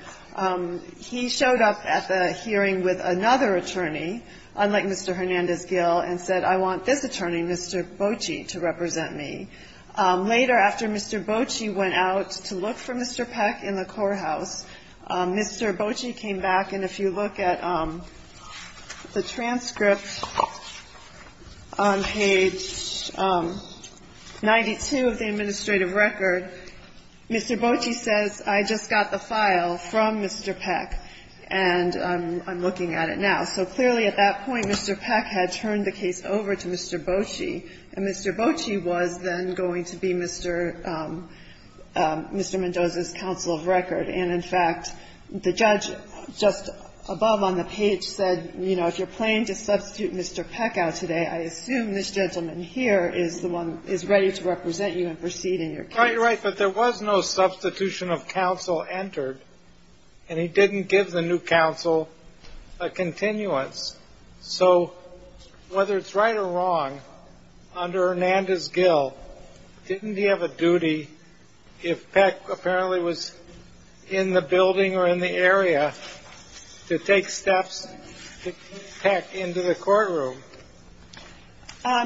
He showed up at the hearing with another attorney, unlike Mr. Hernandez-Gil, and said, I want this attorney, Mr. Bocci, to represent me. Later, after Mr. Bocci went out to look for Mr. Peck in the courthouse, Mr. Bocci came back, and if you look at the transcript on page 92 of the administrative record, Mr. Bocci says, I just got the file from Mr. Peck, and I'm looking at it now. So clearly, at that point, Mr. Peck had turned the case over to Mr. Bocci, and Mr. Bocci was then going to be Mr. Mendoza's counsel of record. And, in fact, the judge just above on the page said, you know, if you're planning to substitute Mr. Peck out today, I assume this gentleman here is ready to represent you and proceed in your case. You're quite right, but there was no substitution of counsel entered, and he didn't give the new counsel a continuance. So whether it's right or wrong, under Hernandez-Gil, didn't he have a duty, if Peck apparently was in the building or in the area, to take steps to get Peck into the courtroom?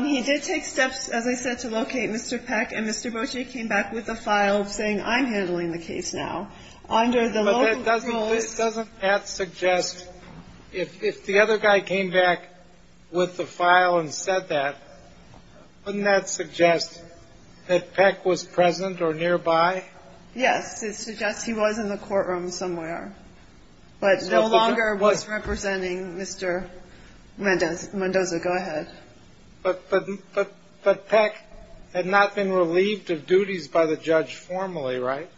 He did take steps, as I said, to locate Mr. Peck, and Mr. Bocci came back with the file saying, I'm handling the case now. But doesn't that suggest, if the other guy came back with the file and said that, wouldn't that suggest that Peck was present or nearby? Yes, it suggests he was in the courtroom somewhere, but no longer was representing Mr. Mendoza. Go ahead. But Peck had not been relieved of duties by the judge formally, right?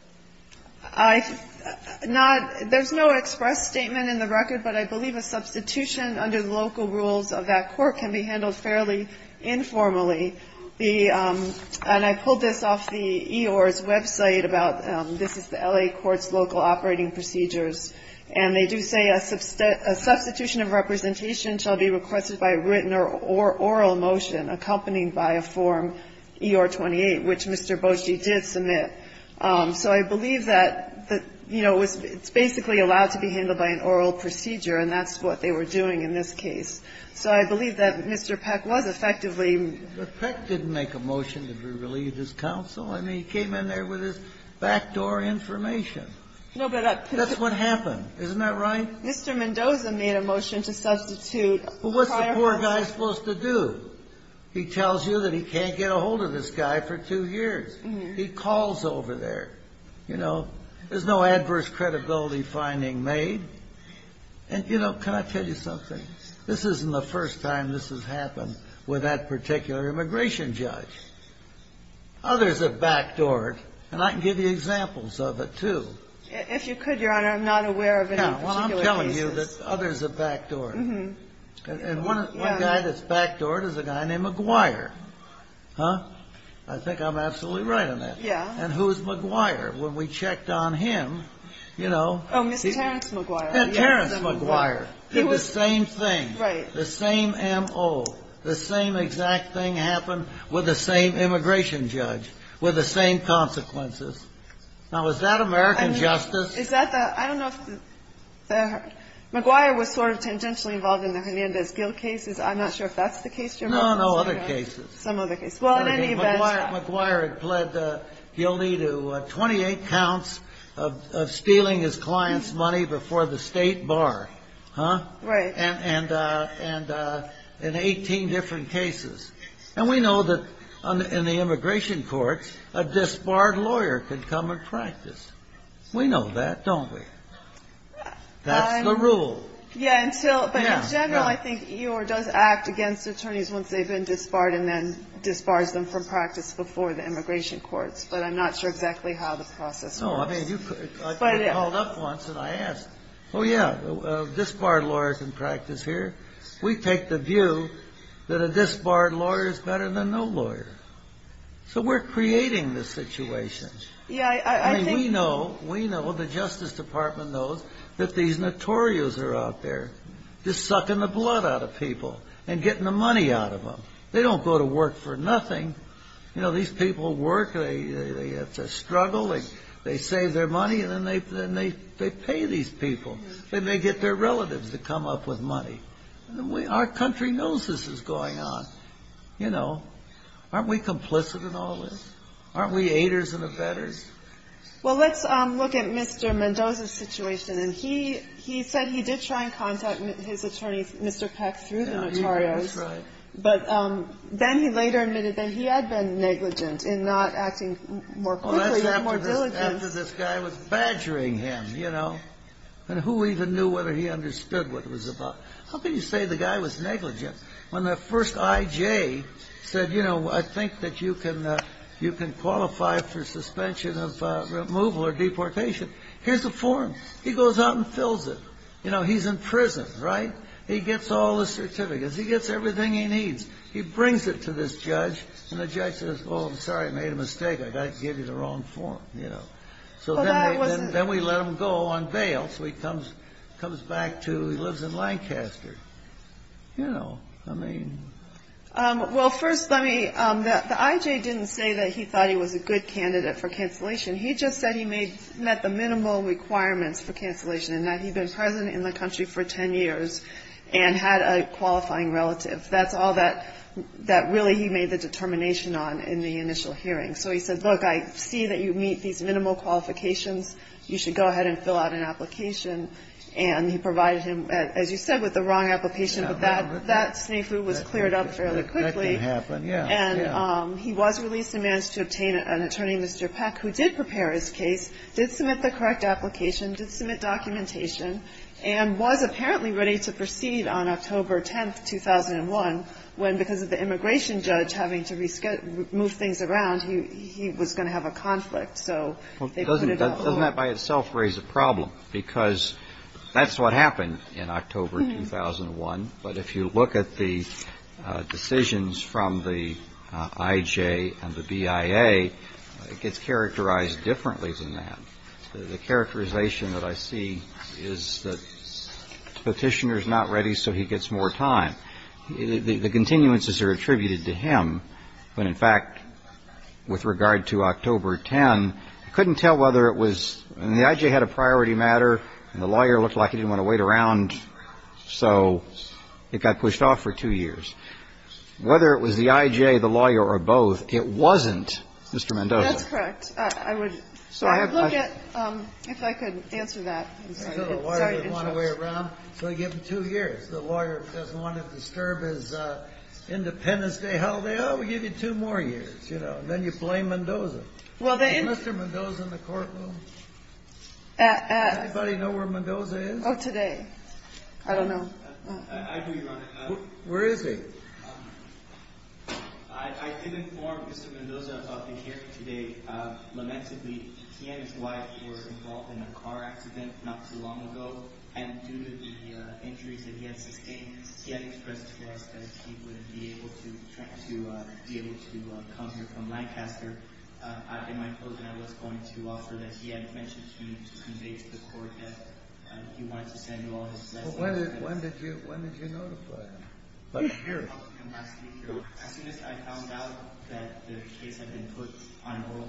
There's no express statement in the record, but I believe a substitution under the local rules of that court can be handled fairly informally. And I pulled this off the EOR's website. This is the L.A. Court's local operating procedures, and they do say a substitution of representation shall be requested by a written or oral motion accompanied by a Form EOR-28, which Mr. Bocci did submit. So I believe that it's basically allowed to be handled by an oral procedure, and that's what they were doing in this case. So I believe that Mr. Peck was effectively... Mr. Peck didn't make a motion to relieve his counsel. I mean, he came in there with his backdoor information. That's what happened, isn't that right? Mr. Mendoza made a motion to substitute... Well, what's the poor guy supposed to do? He tells you that he can't get a hold of this guy for two years. He calls over there. You know, there's no adverse credibility finding made. And, you know, can I tell you something? This isn't the first time this has happened with that particular immigration judge. Others have backdoored, and I can give you examples of it too. If you could, Your Honor, I'm not aware of any. Well, I'm telling you that others have backdoored. And one guy that's backdoored is a guy named McGuire. Huh? I think I'm absolutely right on that. And who is McGuire? When we checked on him, you know... Oh, Mr. Terrence McGuire. Yeah, Terrence McGuire. The same thing. Right. The same M.O. The same exact thing happened with the same immigration judge. With the same consequences. Now, is that American justice? Is that the... I don't know if the... McGuire was sort of intentionally involved in the Hernandez-Gil cases. I'm not sure if that's the case, Your Honor. No, no, other cases. Some other cases. Well, in any event... McGuire had pled guilty to 28 counts of stealing his client's money before the state bar. Huh? Right. And 18 different cases. And we know that in the immigration court, a disbarred lawyer could come and practice. We know that, don't we? That's the rule. Yeah, and still... Yeah. But in general, I think EOIR does act against attorneys once they've been disbarred and then disbars them from practice before the immigration court. But I'm not sure exactly how the process works. No, I mean, you... But... I was called up once and I asked. Oh, yeah. A disbarred lawyer can practice here. We take the view that a disbarred lawyer is better than no lawyer. So we're creating the situation. Yeah, I think... I mean, we know, we know, the Justice Department knows that these notorious are out there just sucking the blood out of people and getting the money out of them. They don't go to work for nothing. You know, these people work. They have to struggle. They save their money and then they pay these people. Then they get their relatives to come up with money. Our country knows this is going on. You know, aren't we complicit in all this? Aren't we haters and offenders? Well, let's look at Mr. Mendoza's situation. And he said he did try and contact his attorney, Mr. Peck, through the notaries. Yeah, he did try. But then he later admitted that he had been negligent in not acting more quickly and more diligently. After this guy was badgering him, you know. And who even knew whether he understood what it was about. How can you say the guy was negligent when that first I.J. said, you know, I think that you can qualify for suspension of removal or deportation. Here's a form. He goes out and fills it. You know, he's in prison, right? He gets all the certificates. He gets everything he needs. He brings it to this judge. And the judge says, well, I'm sorry, I made a mistake. I got to give you the wrong form. You know. So then we let him go on bail. So he comes back to, he lives in Lancaster. You know, I mean. Well, first, let me, the I.J. didn't say that he thought he was a good candidate for cancellation. He just said he met the minimal requirements for cancellation. And that he'd been president in the country for ten years and had a qualifying relative. That's all that really he made the determination on in the initial hearing. So he says, look, I see that you meet these minimal qualifications. You should go ahead and fill out an application. And he provided him, as you said, with the wrong application. But that was cleared up fairly quickly. And he was released and managed to obtain an attorney, Mr. Peck, who did prepare his case, did submit the correct application, did submit documentation, and was apparently ready to proceed on October 10th, 2001, when because of the immigration judge having to move things around, he was going to have a conflict. Doesn't that by itself raise a problem? Because that's what happened in October 2001. But if you look at the decisions from the I.J. and the BIA, it gets characterized differently than that. The characterization that I see is that the petitioner is not ready, so he gets more time. The continuances are attributed to him. When, in fact, with regard to October 10, I couldn't tell whether it was the I.J. had a priority matter, and the lawyer looked like he didn't want to wait around, so it got pushed off for two years. Whether it was the I.J., the lawyer, or both, it wasn't Mr. Mendoza. That's correct. I would look at if I could answer that. The lawyer didn't want to wait around, so he gave him two years. The lawyer doesn't want to disturb his Independence Day holiday, oh, we'll give you two more years. Then you blame Mendoza. Is Mr. Mendoza in the courtroom? Does anybody know where Mendoza is? Not today. I don't know. Where is he? I can inform Mr. Mendoza about the hearing today. Lamentably, he and his wife were involved in a car accident not too long ago, and due to the injuries that he sustained, he had to be able to come here from Lancaster. In my closing, I wanted to offer that he had mentioned to me that he wanted to tell you all this. When did you notify him? I found out that the case had been put on hold.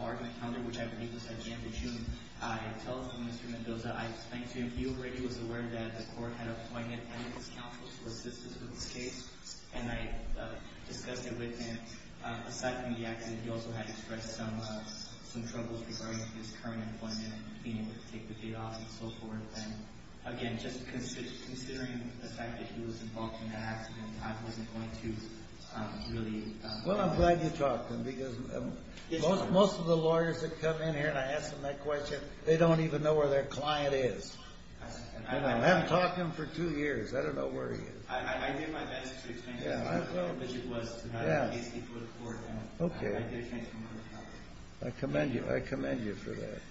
I told Mr. Mendoza that he was aware that the court had appointed a counsel to assist with the case. He also had expressed some troubles regarding his current employment. Considering the fact that he was involved in the accident, I wasn't going to really... Well, I'm glad you talked to him, because most of the lawyers that come in here and I ask them that question, they don't even know where their client is. And I haven't talked to him for two years. I don't know where he is. I'll get my medics to explain it to you. Yeah. Okay. I commend you. I commend you for that.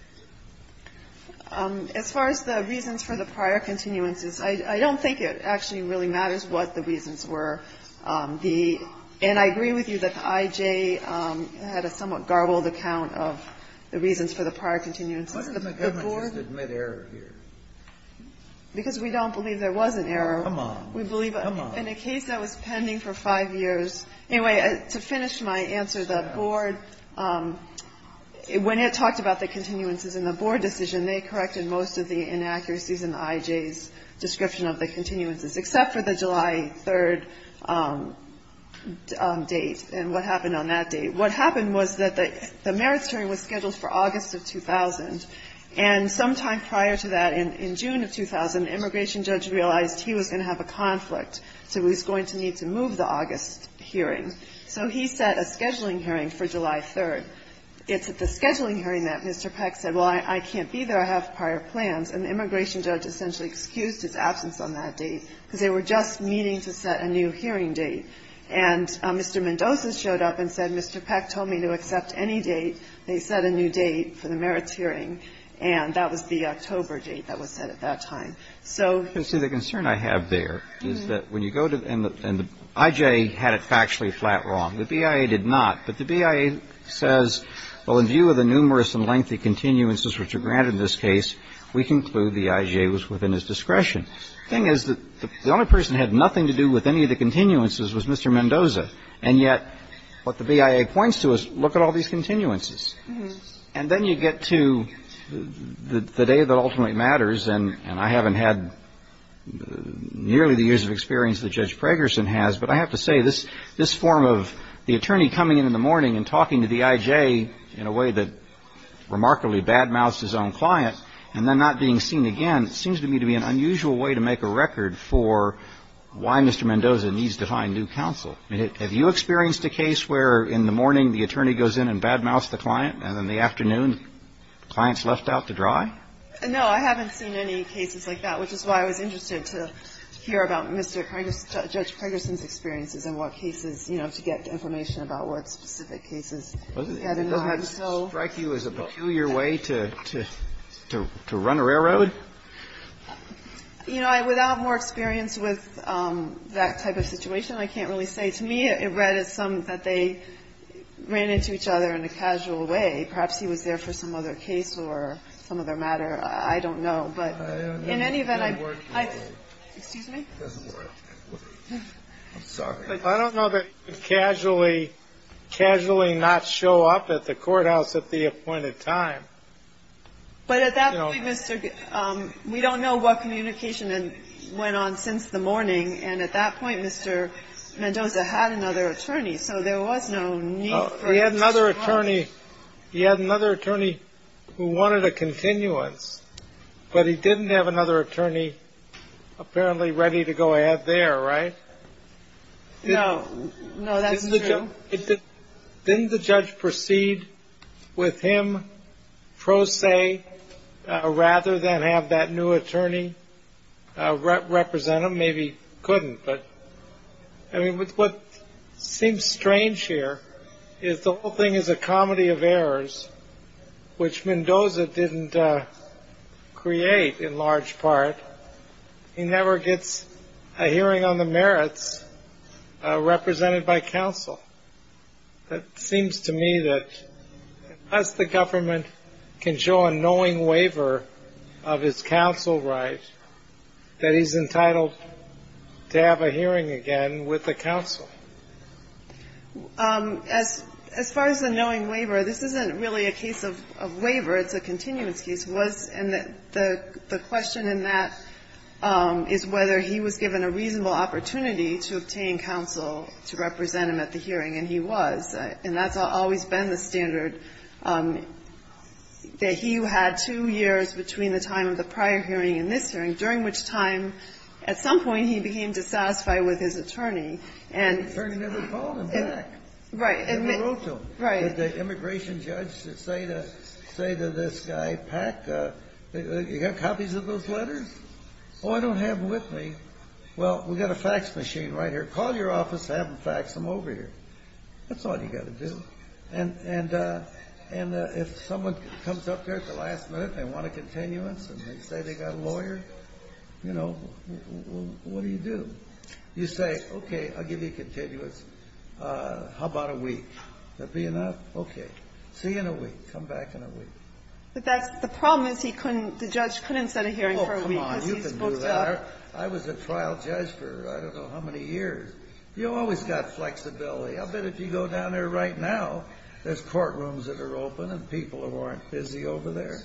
As far as the reasons for the prior continuances, I don't think it actually really matters what the reasons were. And I agree with you that the IJ had a somewhat garbled account of the reasons for the prior continuances. Why doesn't the government admit error here? Because we don't believe there was an error. Come on. Come on. Well, in the case that was pending for five years... Anyway, to finish my answer, the board, when it talked about the continuances in the board decision, they corrected most of the inaccuracies in the IJ's description of the continuances, except for the July 3rd date and what happened on that date. What happened was that the merits hearing was scheduled for August of 2000. And sometime prior to that, in June of 2000, the immigration judge realized he was going to have a conflict, so he was going to need to move the August hearing. So he set a scheduling hearing for July 3rd. It's at the scheduling hearing that Mr. Peck said, well, I can't be there. I have prior plans. And the immigration judge essentially excused his absence on that date because they were just meeting to set a new hearing date. And Mr. Mendoza showed up and said, Mr. Peck told me to accept any date. They set a new date for the merits hearing, and that was the October date that was set at that time. So... You see, the concern I have there is that when you go to... And the IJ had it factually flat wrong. The BIA did not. But the BIA says, well, in view of the numerous and lengthy continuances which are granted in this case, we conclude the IJ was within his discretion. The thing is that the only person who had nothing to do with any of the continuances was Mr. Mendoza. And yet, what the BIA points to is, look at all these continuances. And then you get to the day that ultimately matters, and I haven't had nearly the years of experience that Judge Pragerson has, but I have to say, this form of the attorney coming in in the morning and talking to the IJ in a way that remarkably bad-mouthed his own client, and then not being seen again, seems to me to be an unusual way to make a record for why Mr. Mendoza needs to find new counsel. Have you experienced a case where, in the morning, the attorney goes in and bad-mouths the client, and in the afternoon, the client's left out to dry? No, I haven't seen any cases like that, which is why I was interested to hear about Mr. Pragerson's experiences and what cases, you know, to get information about what specific cases... Did you just know Reiki was a peculiar way to run a railroad? You know, without more experience with that type of situation, I can't really say. To me, it read as something that they ran into each other in a casual way. Perhaps he was there for some other case or some other matter. I don't know, but in any event... I'm sorry. I don't know that he would casually not show up at the courthouse at the appointed time. But at that point, we don't know what communication went on since the morning, and at that point, Mr. Mendoza had another attorney, so there was no need for... He had another attorney who wanted a continuance, but he didn't have another attorney apparently ready to go ahead there, right? No. No, that's true. Didn't the judge proceed with him pro se rather than have that new attorney represent him? Maybe he couldn't, but... I mean, what seems strange here is the whole thing is a comedy of errors, which Mendoza didn't create in large part. He never gets a hearing on the merits represented by counsel. It seems to me that unless the government can show a knowing waiver of his counsel rights, that he's entitled to have a hearing again with the counsel. As far as the knowing waiver, this isn't really a case of waiver. It's a continuance case, and the question in that is whether he was given a reasonable opportunity to obtain counsel to represent him at the hearing, and he was. And that's always been the standard. He had two years between the time of the prior hearing and this hearing, during which time at some point he became dissatisfied with his attorney, and... The attorney never called him back. He never wrote to him. Did the immigration judge say to this guy, Pack, you got copies of those letters? Oh, I don't have them with me. Well, we've got a fax machine right here. Call your office and have them fax them over here. That's all you've got to do. And if someone comes up there at the last minute and they want a continuance, and they say they've got a lawyer, you know, what do you do? You say, okay, I'll give you a continuance. How about a week? That be enough? Okay. See you in a week. Come back in a week. But the problem is the judge couldn't set a hearing for a week. Oh, come on. You can do that. I was a trial judge for I don't know how many years. You always got flexibility. I'll bet if you go down there right now, there's courtrooms that are open and people who aren't busy over there.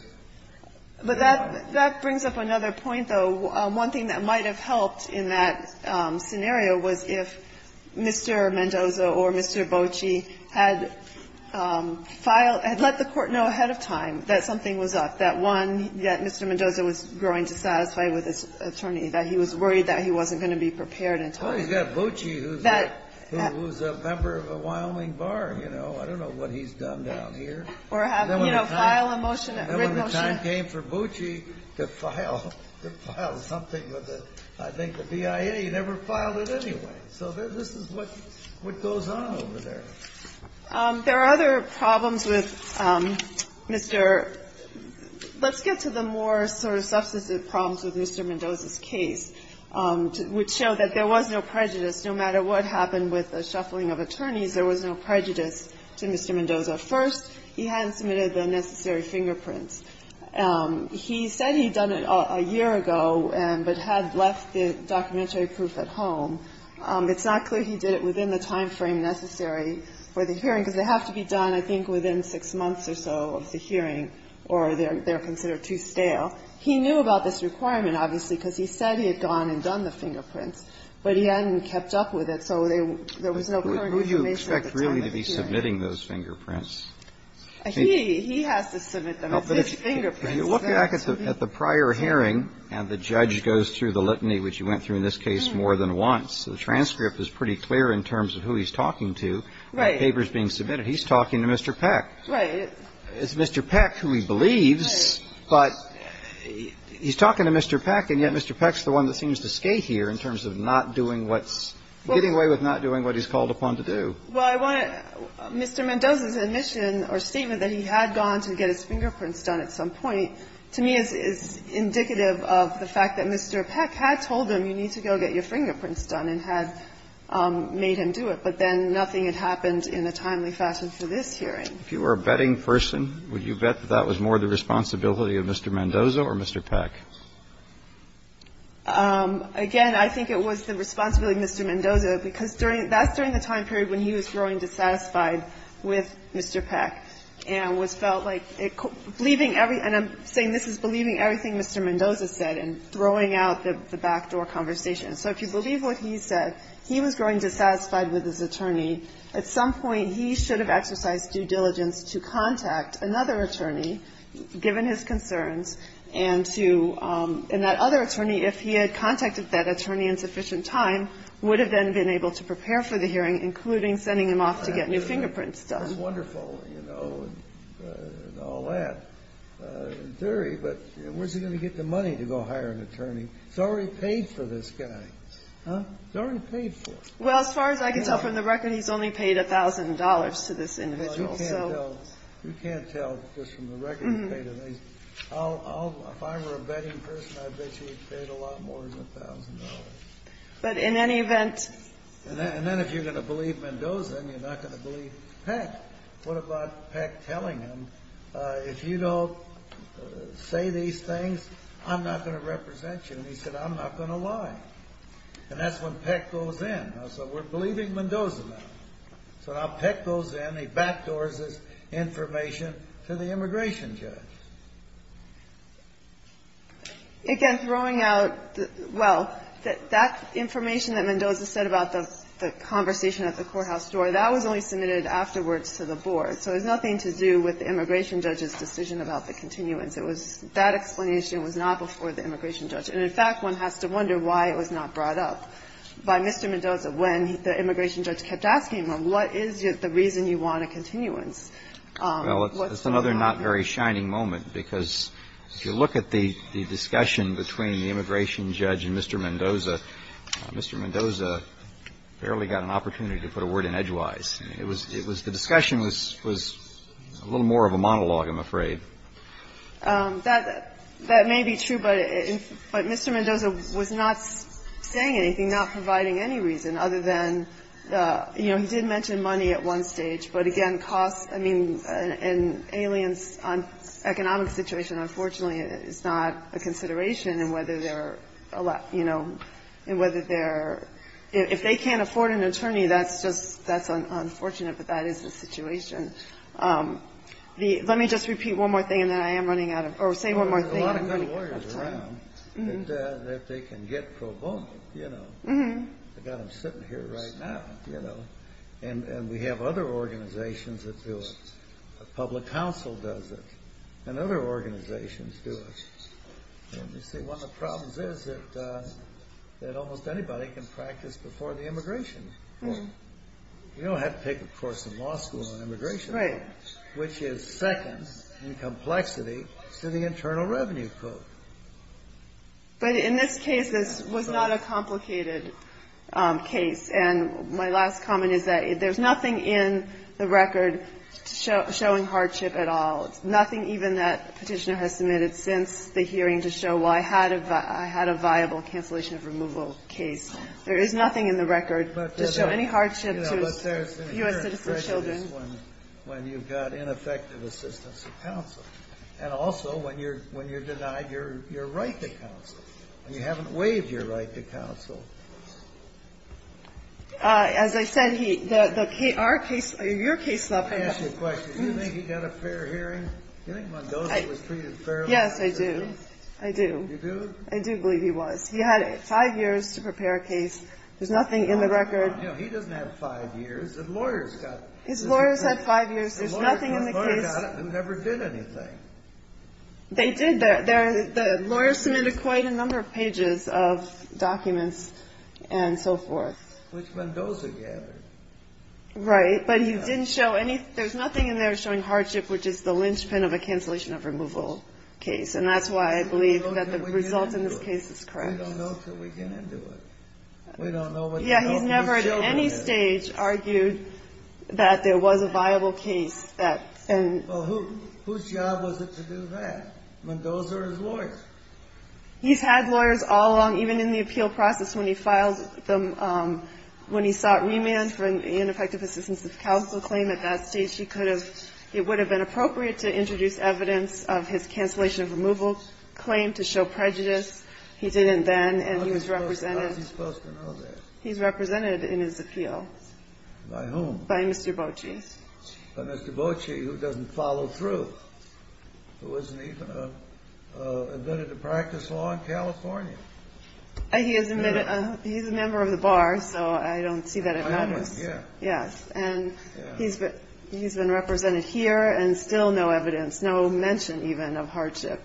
But that brings up another point, though. One thing that might have helped in that scenario was if Mr. Mendoza or Mr. Bocci had let the court know ahead of time that something was up, that one, that Mr. Mendoza was growing dissatisfied with his attorney, that he was worried that he wasn't going to be prepared in time. Well, he's got Bocci, who's a member of the Wyoming Bar, you know. I don't know what he's done down here. You know, file a motion, a written motion. It's not a game for Bocci to file something. I think the BIA never filed it anyway. So this is what goes on over there. There are other problems with Mr. Let's get to the more sort of substantive problems with Mr. Mendoza's case, which show that there was no prejudice. No matter what happened with the shuffling of attorneys, there was no prejudice to Mr. Mendoza. First, he hadn't submitted the necessary fingerprints. He said he'd done it a year ago but had left the documentary proof at home. It's not clear he did it within the time frame necessary for the hearing because they have to be done, I think, within six months or so of the hearing or they're considered too stale. He knew about this requirement, obviously, because he said he had gone and done the fingerprints, but he hadn't kept up with it. Who do you expect really to be submitting those fingerprints? He has to submit them. But if you look back at the prior hearing and the judge goes through the litany, which he went through in this case more than once, the transcript is pretty clear in terms of who he's talking to. That paper's being submitted. He's talking to Mr. Peck. It's Mr. Peck who he believes, but he's talking to Mr. Peck, and yet Mr. Peck's the one that seems to stay here in terms of getting away with not doing what he's called upon to do. Well, Mr. Mendoza's admission or statement that he had gone to get his fingerprints done at some point, to me is indicative of the fact that Mr. Peck had told him you need to go get your fingerprints done and had made him do it, but then nothing had happened in a timely fashion for this hearing. If you were a betting person, would you bet that that was more the responsibility of Mr. Mendoza or Mr. Peck? Again, I think it was the responsibility of Mr. Mendoza because that's during the time period when he was growing dissatisfied with Mr. Peck and was felt like, and I'm saying this is believing everything Mr. Mendoza said and throwing out the backdoor conversation. So if you believe what he says, he was growing dissatisfied with his attorney. At some point, he should have exercised due diligence to contact another attorney, given his concerns, and that other attorney, if he had contacted that attorney in sufficient time, would have then been able to prepare for the hearing, including sending him off to get his fingerprints done. That's wonderful and all that in theory, but where's he going to get the money to go hire an attorney? He's already paid for this guy. Huh? He's already paid for him. Well, as far as I can tell from the record, he's only paid $1,000 to this individual. You can't tell just from the record. If I were a betting person, I'd bet you he's paid a lot more than $1,000. But in any event... And then if you're going to believe Mendoza, you're not going to believe Peck. What about Peck telling him, if you don't say these things, I'm not going to represent you? And he said, I'm not going to lie. And that's when Peck goes in. So we're believing Mendoza now. So now Peck goes in. He backdoors this information to the immigration judge. Again, throwing out... Well, that information that Mendoza said about the conversation at the courthouse door, that was only submitted afterwards to the board. So it has nothing to do with the immigration judge's decision about the continuance. That explanation was not before the immigration judge. And in fact, one has to wonder why it was not brought up by Mr. Mendoza when the immigration judge kept asking him, well, what is the reason you want a continuance? Well, it's another not very shining moment, because if you look at the discussion between the immigration judge and Mr. Mendoza, Mr. Mendoza barely got an opportunity to put a word in edgewise. The discussion was a little more of a monologue, I'm afraid. That may be true, but Mr. Mendoza was not saying anything, not providing any reason, other than, you know, he did mention money at one stage. But again, costs, I mean, in an alien economic situation, unfortunately it's not a consideration in whether they're, you know, in whether they're... If they can't afford an attorney, that's unfortunate, but that is the situation. Let me just repeat one more thing, and then I am running out of time. There's a lot of good lawyers around that they can get pro bono, you know. I've got them sitting here right now, you know. And we have other organizations that do it. The public council does it. And other organizations do it. You see, one of the problems is that almost anybody can practice before the immigration judge. You don't have to take a course in law school and immigration, which is second in complexity to the Internal Revenue Code. But in this case, this was not a complicated case. And my last comment is that there's nothing in the record showing hardship at all, nothing even that petitioner has submitted since the hearing to show, well, I had a viable cancellation of removal case. There is nothing in the record to show any hardship to U.S. citizens. But there's an inherent prejudice when you've got ineffective assistance of counsel, and also when you're denied your right to counsel, and you haven't waived your right to counsel. As I said, our case, your case... Let me ask you a question. Do you think he got a fair hearing? Do you think Mendoza was treated fairly? Yes, I do. I do. You do? I do believe he was. He had five years to prepare a case. There's nothing in the record. No, he doesn't have five years. The lawyers got it. His lawyers had five years. There's nothing in the case. The lawyers got it and never did anything. They did. The lawyers submitted quite a number of pages of documents and so forth. Which Mendoza gathered. Right. But he didn't show any... There's nothing in there showing hardship, which is the linchpin of a cancellation of removal case. And that's why I believe that the result in this case is correct. We don't know until we get into it. We don't know until... Yeah, he never at any stage argued that there was a viable case that... Well, whose job was it to do that? Mendoza or his lawyers? He's had lawyers all along, even in the appeal process when he filed them... When he sought remand for an ineffective assistance to counsel claim at that stage, it would have been appropriate to introduce evidence of his cancellation of removal claim to show prejudice. He didn't then, and he was represented... How is he supposed to know that? He's represented in his appeal. By whom? By Mr. Bochy. But Mr. Bochy, who doesn't follow through. Who isn't even admitted to practice law in California. He is a member of the bar, so I don't see that at all. Yeah. Yes, and he's been represented here and still no evidence, no mention even of hardship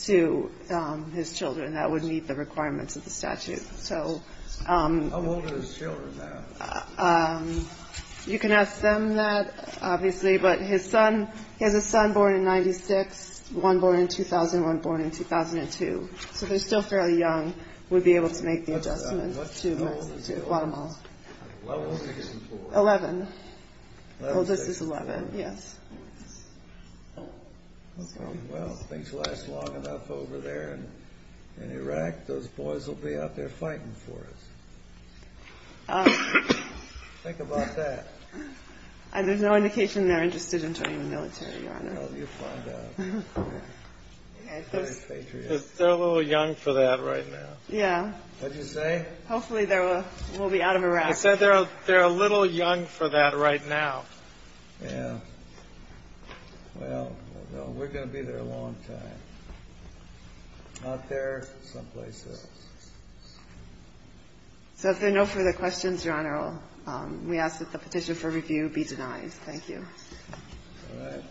to his children that would meet the requirements of the statute. So... How old are his children now? You can ask them that, obviously, but his son, he has a son born in 96, one born in 2001, one born in 2002. So they're still fairly young. Would be able to make the adjustment to Guatemala. How old is he? 11. Well, this is 11, yes. Okay, well, things last long enough over there in Iraq. Those boys will be out there fighting for us. Think about that. And there's no indication that I'm interested in joining the military. Well, you'll find out. They're still a little young for that right now. Yeah. What did you say? Hopefully they will be out of Iraq. They're a little young for that right now. Yeah. Well, we're going to be there a long time. Out there someplace else. So if there are no further questions, Your Honor, we ask that the petition for review be denied. Thank you. Go ahead.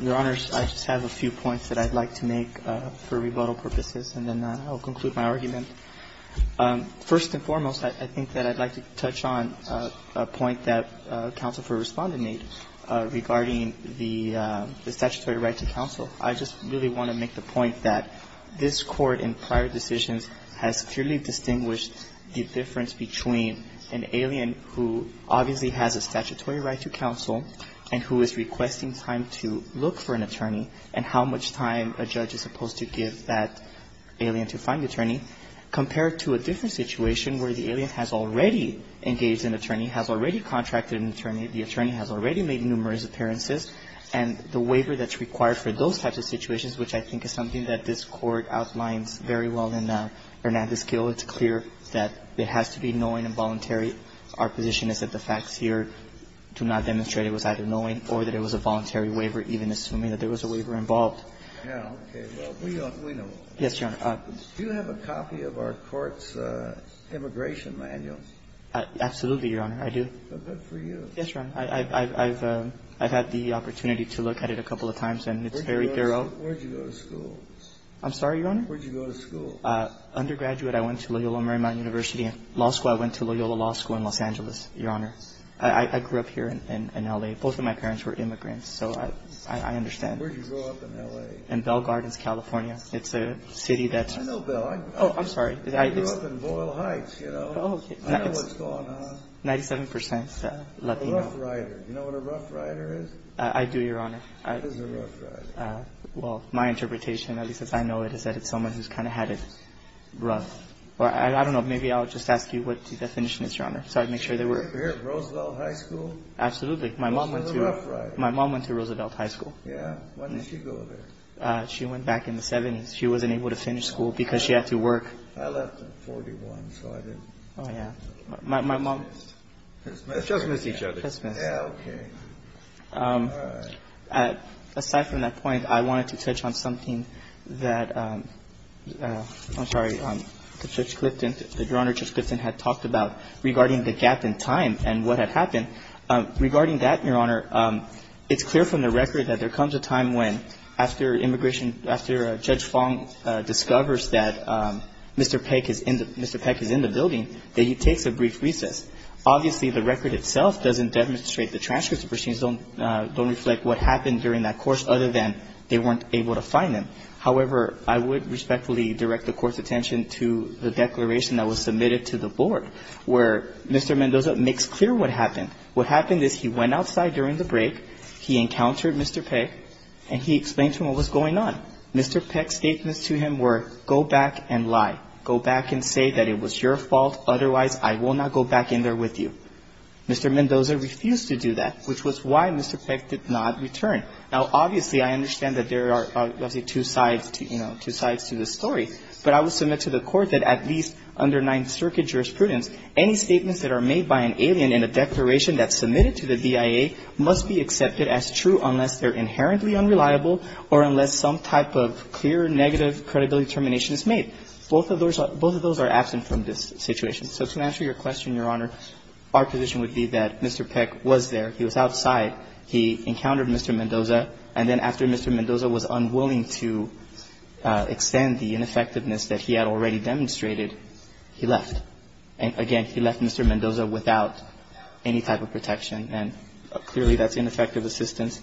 Your Honors, I just have a few points that I'd like to make for rebuttal purposes, and then I'll conclude my argument. First and foremost, I think that I'd like to touch on a point that a counselor responded to me regarding the statutory rights of counsel. I just really want to make the point that this court, in prior decisions, has clearly distinguished the difference between an alien who obviously has a statutory right to counsel and who is requesting time to look for an attorney and how much time a judge is supposed to give that alien to find an attorney, compared to a different situation where the alien has already engaged an attorney, has already contracted an attorney, the attorney has already made numerous appearances, and the waiver that's required for those types of situations, which I think is something that this court outlined very well in Hernandez-Gil, it's clear that it has to be knowing and voluntary. Our position is that the facts here do not demonstrate it was either knowing or that it was a voluntary waiver, even assuming that there was a waiver involved. Yeah, okay. Well, we know. Yes, Your Honor. Do you have a copy of our court's immigration manual? Absolutely, Your Honor, I do. Good for you. Yes, Your Honor. I've had the opportunity to look at it a couple of times, and it's very thorough. Where did you go to school? I'm sorry, Your Honor? Where did you go to school? Undergraduate, I went to Loyola Marymount University. Law school, I went to Loyola Law School in Los Angeles, Your Honor. I grew up here in L.A. Both of my parents were immigrants, so I understand. Where did you grow up in L.A.? In Bell Gardens, California. It's a city that's— I know Bell. Oh, I'm sorry. I grew up in Boyle Heights, you know. Oh, okay. I know what's going on. Ninety-seven percent Latino. You're a rough rider. Do you know what a rough rider is? I do, Your Honor. What is a rough rider? Well, my interpretation, at least as I know it, is that it's someone who's kind of had it rough. I don't know. Maybe I'll just ask you what the definition is, Your Honor, so I can make sure that we're— You were here at Roosevelt High School? Absolutely. My mom went to— What's a rough rider? My mom went to Roosevelt High School. Yeah? When did she go there? She went back in the 70s. She wasn't able to finish school because she had to work. I left at 41, so I do. Oh, yeah. My mom— Let's just move to each other. Okay. All right. Aside from that point, I wanted to touch on something that—I'm sorry—Judge Clifton, Your Honor, Judge Clifton had talked about regarding the gap in time and what had happened. Regarding that, Your Honor, it's clear from the record that there comes a time when, after immigration, after Judge Fong discovers that Mr. Peck is in the building, that you take the brief recess. Obviously, the record itself doesn't demonstrate the transcripts. It doesn't reflect what happened during that course other than they weren't able to find him. However, I would respectfully direct the court's attention to the declaration that was submitted to the board where Mr. Mendoza makes clear what happened. What happened is he went outside during the break, he encountered Mr. Peck, and he explained to him what was going on. Mr. Peck's statements to him were, go back and lie. Go back and say that it was your fault. Otherwise, I will not go back in there with you. Mr. Mendoza refused to do that, which was why Mr. Peck did not return. Now, obviously, I understand that there are, let's say, two sides to this story, but I would submit to the court that at least under Ninth Circuit jurisprudence, any statements that are made by an alien in a declaration that's submitted to the DIA must be accepted as true unless they're inherently unreliable or unless some type of clear negative credibility determination is made. Both of those are absent from this situation. So to answer your question, Your Honor, our position would be that Mr. Peck was there. He was outside. He encountered Mr. Mendoza. And then after Mr. Mendoza was unwilling to extend the ineffectiveness that he had already demonstrated, he left. And again, he left Mr. Mendoza without any type of protection, and clearly that's ineffective assistance.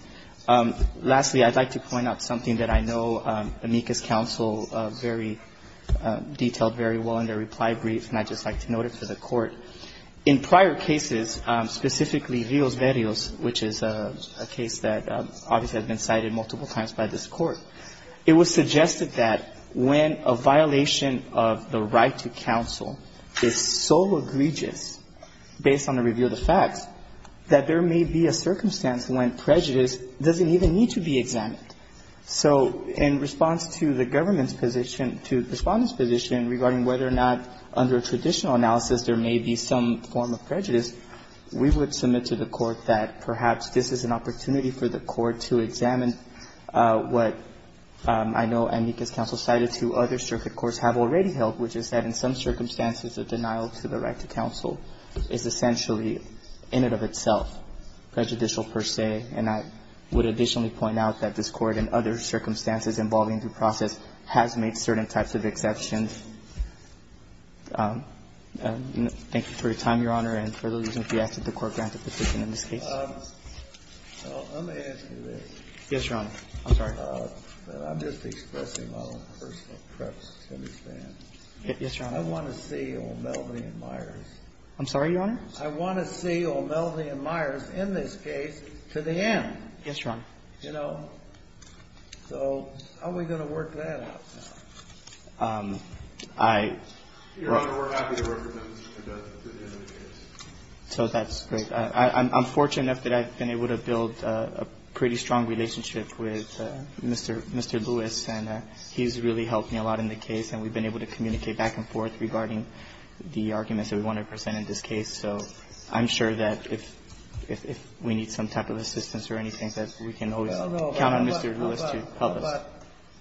Lastly, I'd like to point out something that I know Amica's counsel very detailed very well in their reply brief, and I'd just like to note it to the court. In prior cases, specifically Zios Verios, which is a case that obviously has been cited multiple times by this court, it was suggested that when a violation of the right to counsel is so egregious based on the review of the facts, that there may be a circumstance when prejudice doesn't even need to be examined. So in response to the government's position, to the respondent's position, regarding whether or not under traditional analysis there may be some form of prejudice, we would submit to the court that perhaps this is an opportunity for the court to examine what I know Amica's counsel cited to other circuit courts have already held, which is that in some circumstances, the denial to the right to counsel is essentially, in and of itself, prejudicial per se. And I would additionally point out that this court, in other circumstances involving due process, has made certain types of exceptions. Thank you for your time, Your Honor, and for the reasons we asked at the court, and the position in this case. Let me answer this. Yes, Your Honor. I'm sorry. I'm just expressing my own personal preference. Yes, Your Honor. I want to see O'Melody and Myers. I'm sorry, Your Honor? I want to see O'Melody and Myers in this case to the end. Yes, Your Honor. You know? So how are we going to work that out? I... Your Honor, we're happy to work with them. So that's great. I'm fortunate enough that I've been able to build a pretty strong relationship with Mr. Lewis, and he's really helped me a lot in the case, and we've been able to communicate back and forth regarding the arguments that we want to present in this case. So I'm sure that if we need some type of assistance or anything, that we can always count on Mr. Lewis to help us.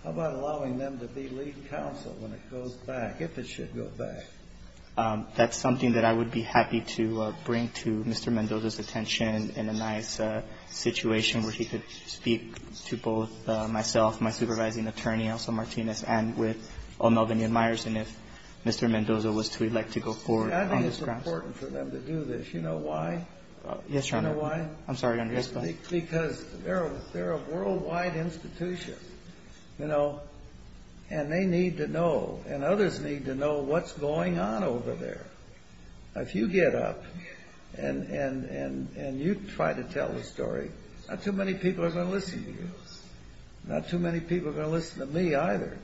How about allowing them to be lead counsel when it goes back, if it should go back? That's something that I would be happy to bring to Mr. Mendoza's attention in a nice situation where he could speak to both myself, my supervising attorney, also Martinez, and with O'Melody and Myers, and if Mr. Mendoza was to elect to go forward. I think it's important for them to do this. You know why? Yes, Your Honor. You know why? I'm sorry, Your Honor. Because they're a worldwide institution, you know, and they need to know, and others need to know what's going on over there. If you get up and you try to tell the story, not too many people are going to listen to you. Not too many people are going to listen to me either.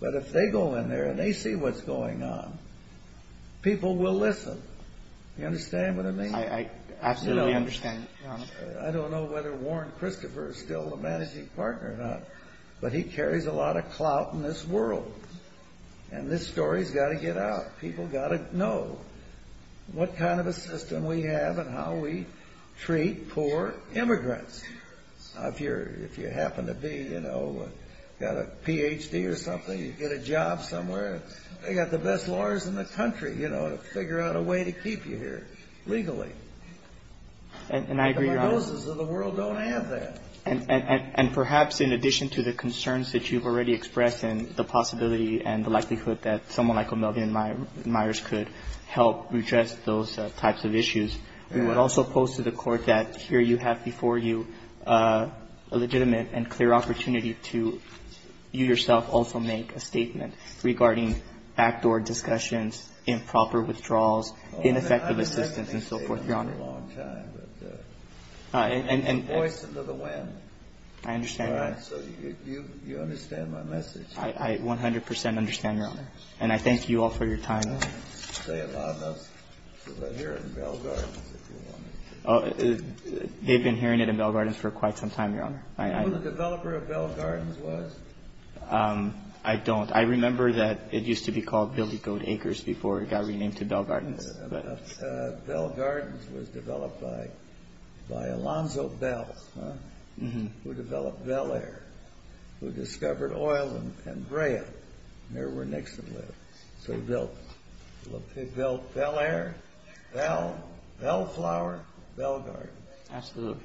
But if they go in there and they see what's going on, people will listen. You understand what I mean? I absolutely understand, Your Honor. I don't know whether Warren Christopher is still the managing partner or not, but he carries a lot of clout in this world, and this story has got to get out. People have got to know what kind of a system we have and how we treat poor immigrants. If you happen to be, you know, got a Ph.D. or something, you get a job somewhere, they've got the best lawyers in the country, you know, to figure out a way to keep you here legally. And I agree, Your Honor. Most of the world don't have that. And perhaps in addition to the concerns that you've already expressed and the possibility and the likelihood that someone like O'Million Myers could help redress those types of issues, we would also pose to the Court that here you have before you a legitimate and clear opportunity to, you yourself, also make a statement regarding backdoor discussions, improper withdrawals, ineffective assistance, and so forth, Your Honor. I've been hearing that for a long time. All right. And voice it to the wind. I understand, Your Honor. So you understand my message. I 100 percent understand, Your Honor. And I thank you all for your time. Say it loud enough, because I hear it in Bell Gardens. They've been hearing it in Bell Gardens for quite some time, Your Honor. Who the developer of Bell Gardens was? I don't. I remember that it used to be called Dilly Goat Acres before it got renamed to Bell Gardens. Bell Gardens was developed by Alonzo Bell, who developed Bell Air, who discovered oil and Brea, and they were next to it. So they built Bell Air, Bell, Bellflower, Bell Gardens. Absolutely.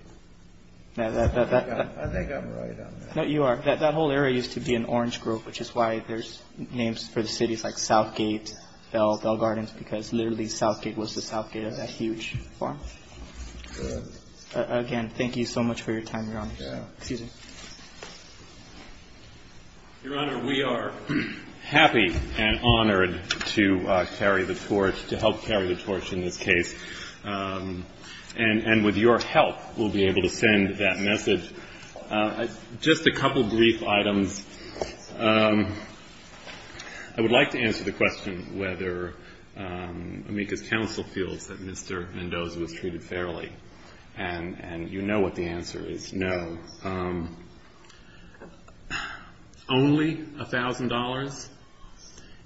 I think I'm right on that. No, you are. That whole area used to be an orange group, which is why there's names for the cities like Southgate, Bell, Bell Gardens, because literally Southgate was the Southgate of that huge farm. Again, thank you so much for your time, Your Honor. Excuse me. Your Honor, we are happy and honored to help carry the torch in this case. And with your help, we'll be able to send that message. Just a couple of brief items. I would like to answer the question whether Amica Council feels that Mr. Mendoza was treated fairly. And you know what the answer is, no. Only $1,000?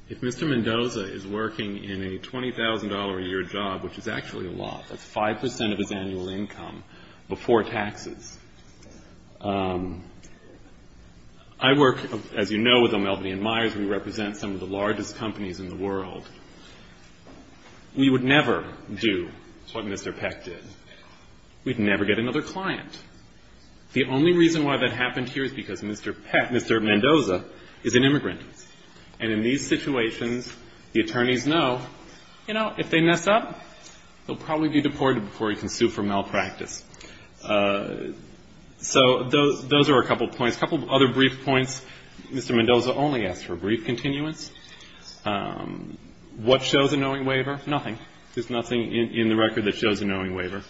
If Mr. Mendoza is working in a $20,000 a year job, which is actually a lot, 5% of his annual income before taxes. I work, as you know, with Ameldi and Meyers. We represent some of the largest companies in the world. We would never do what Mr. Peck did. We'd never get another client. The only reason why that happened here is because Mr. Peck, Mr. Mendoza, is an immigrant. And in these situations, the attorneys know, you know, if they mess up, they'll probably be deported before he can sue for malpractice. So those are a couple of points. A couple of other brief points. Mr. Mendoza only asked for a brief continuance. What shows a knowing waiver? Nothing. There's nothing in the record that shows a knowing waiver.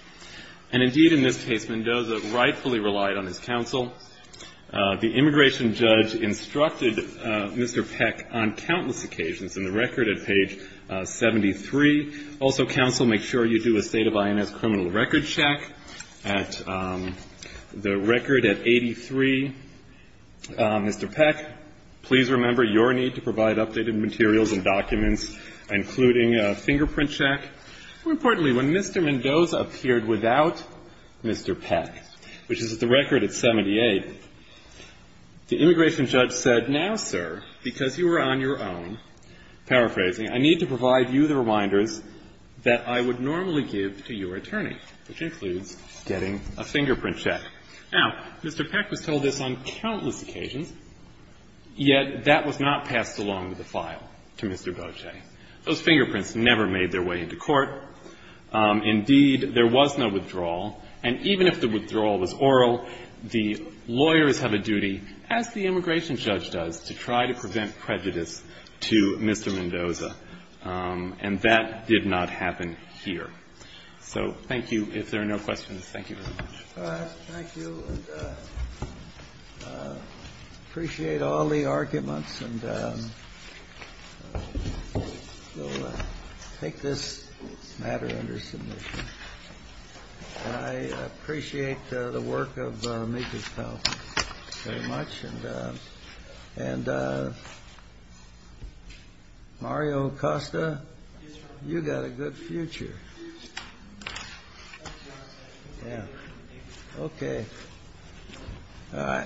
And indeed, in this case, Mendoza rightfully relied on his counsel. The immigration judge instructed Mr. Peck on countless occasions in the record at page 73. Also, counsel, make sure you do a state of INS criminal record check at the record at 83. Mr. Peck, please remember your need to provide updated materials and documents, including a fingerprint check. More importantly, when Mr. Mendoza appeared without Mr. Peck, which is at the record at 78, the immigration judge said, now, sir, because you are on your own, paraphrasing, I need to provide you the reminders that I would normally give to your attorney, which includes getting a fingerprint check. Now, Mr. Peck was told this on countless occasions, yet that was not passed along with the file to Mr. Boce. Those fingerprints never made their way into court. Indeed, there was no withdrawal, and even if the withdrawal was oral, the lawyers have a duty, as the immigration judge does, to try to prevent prejudice to Mr. Mendoza. And that did not happen here. So thank you. If there are no questions, thank you very much. Thank you. I appreciate all the arguments, and I'll take this matter under submission. I appreciate the work of Mika's colleagues very much. And Mario Acosta, you've got a good future. Yeah. Okay. All right.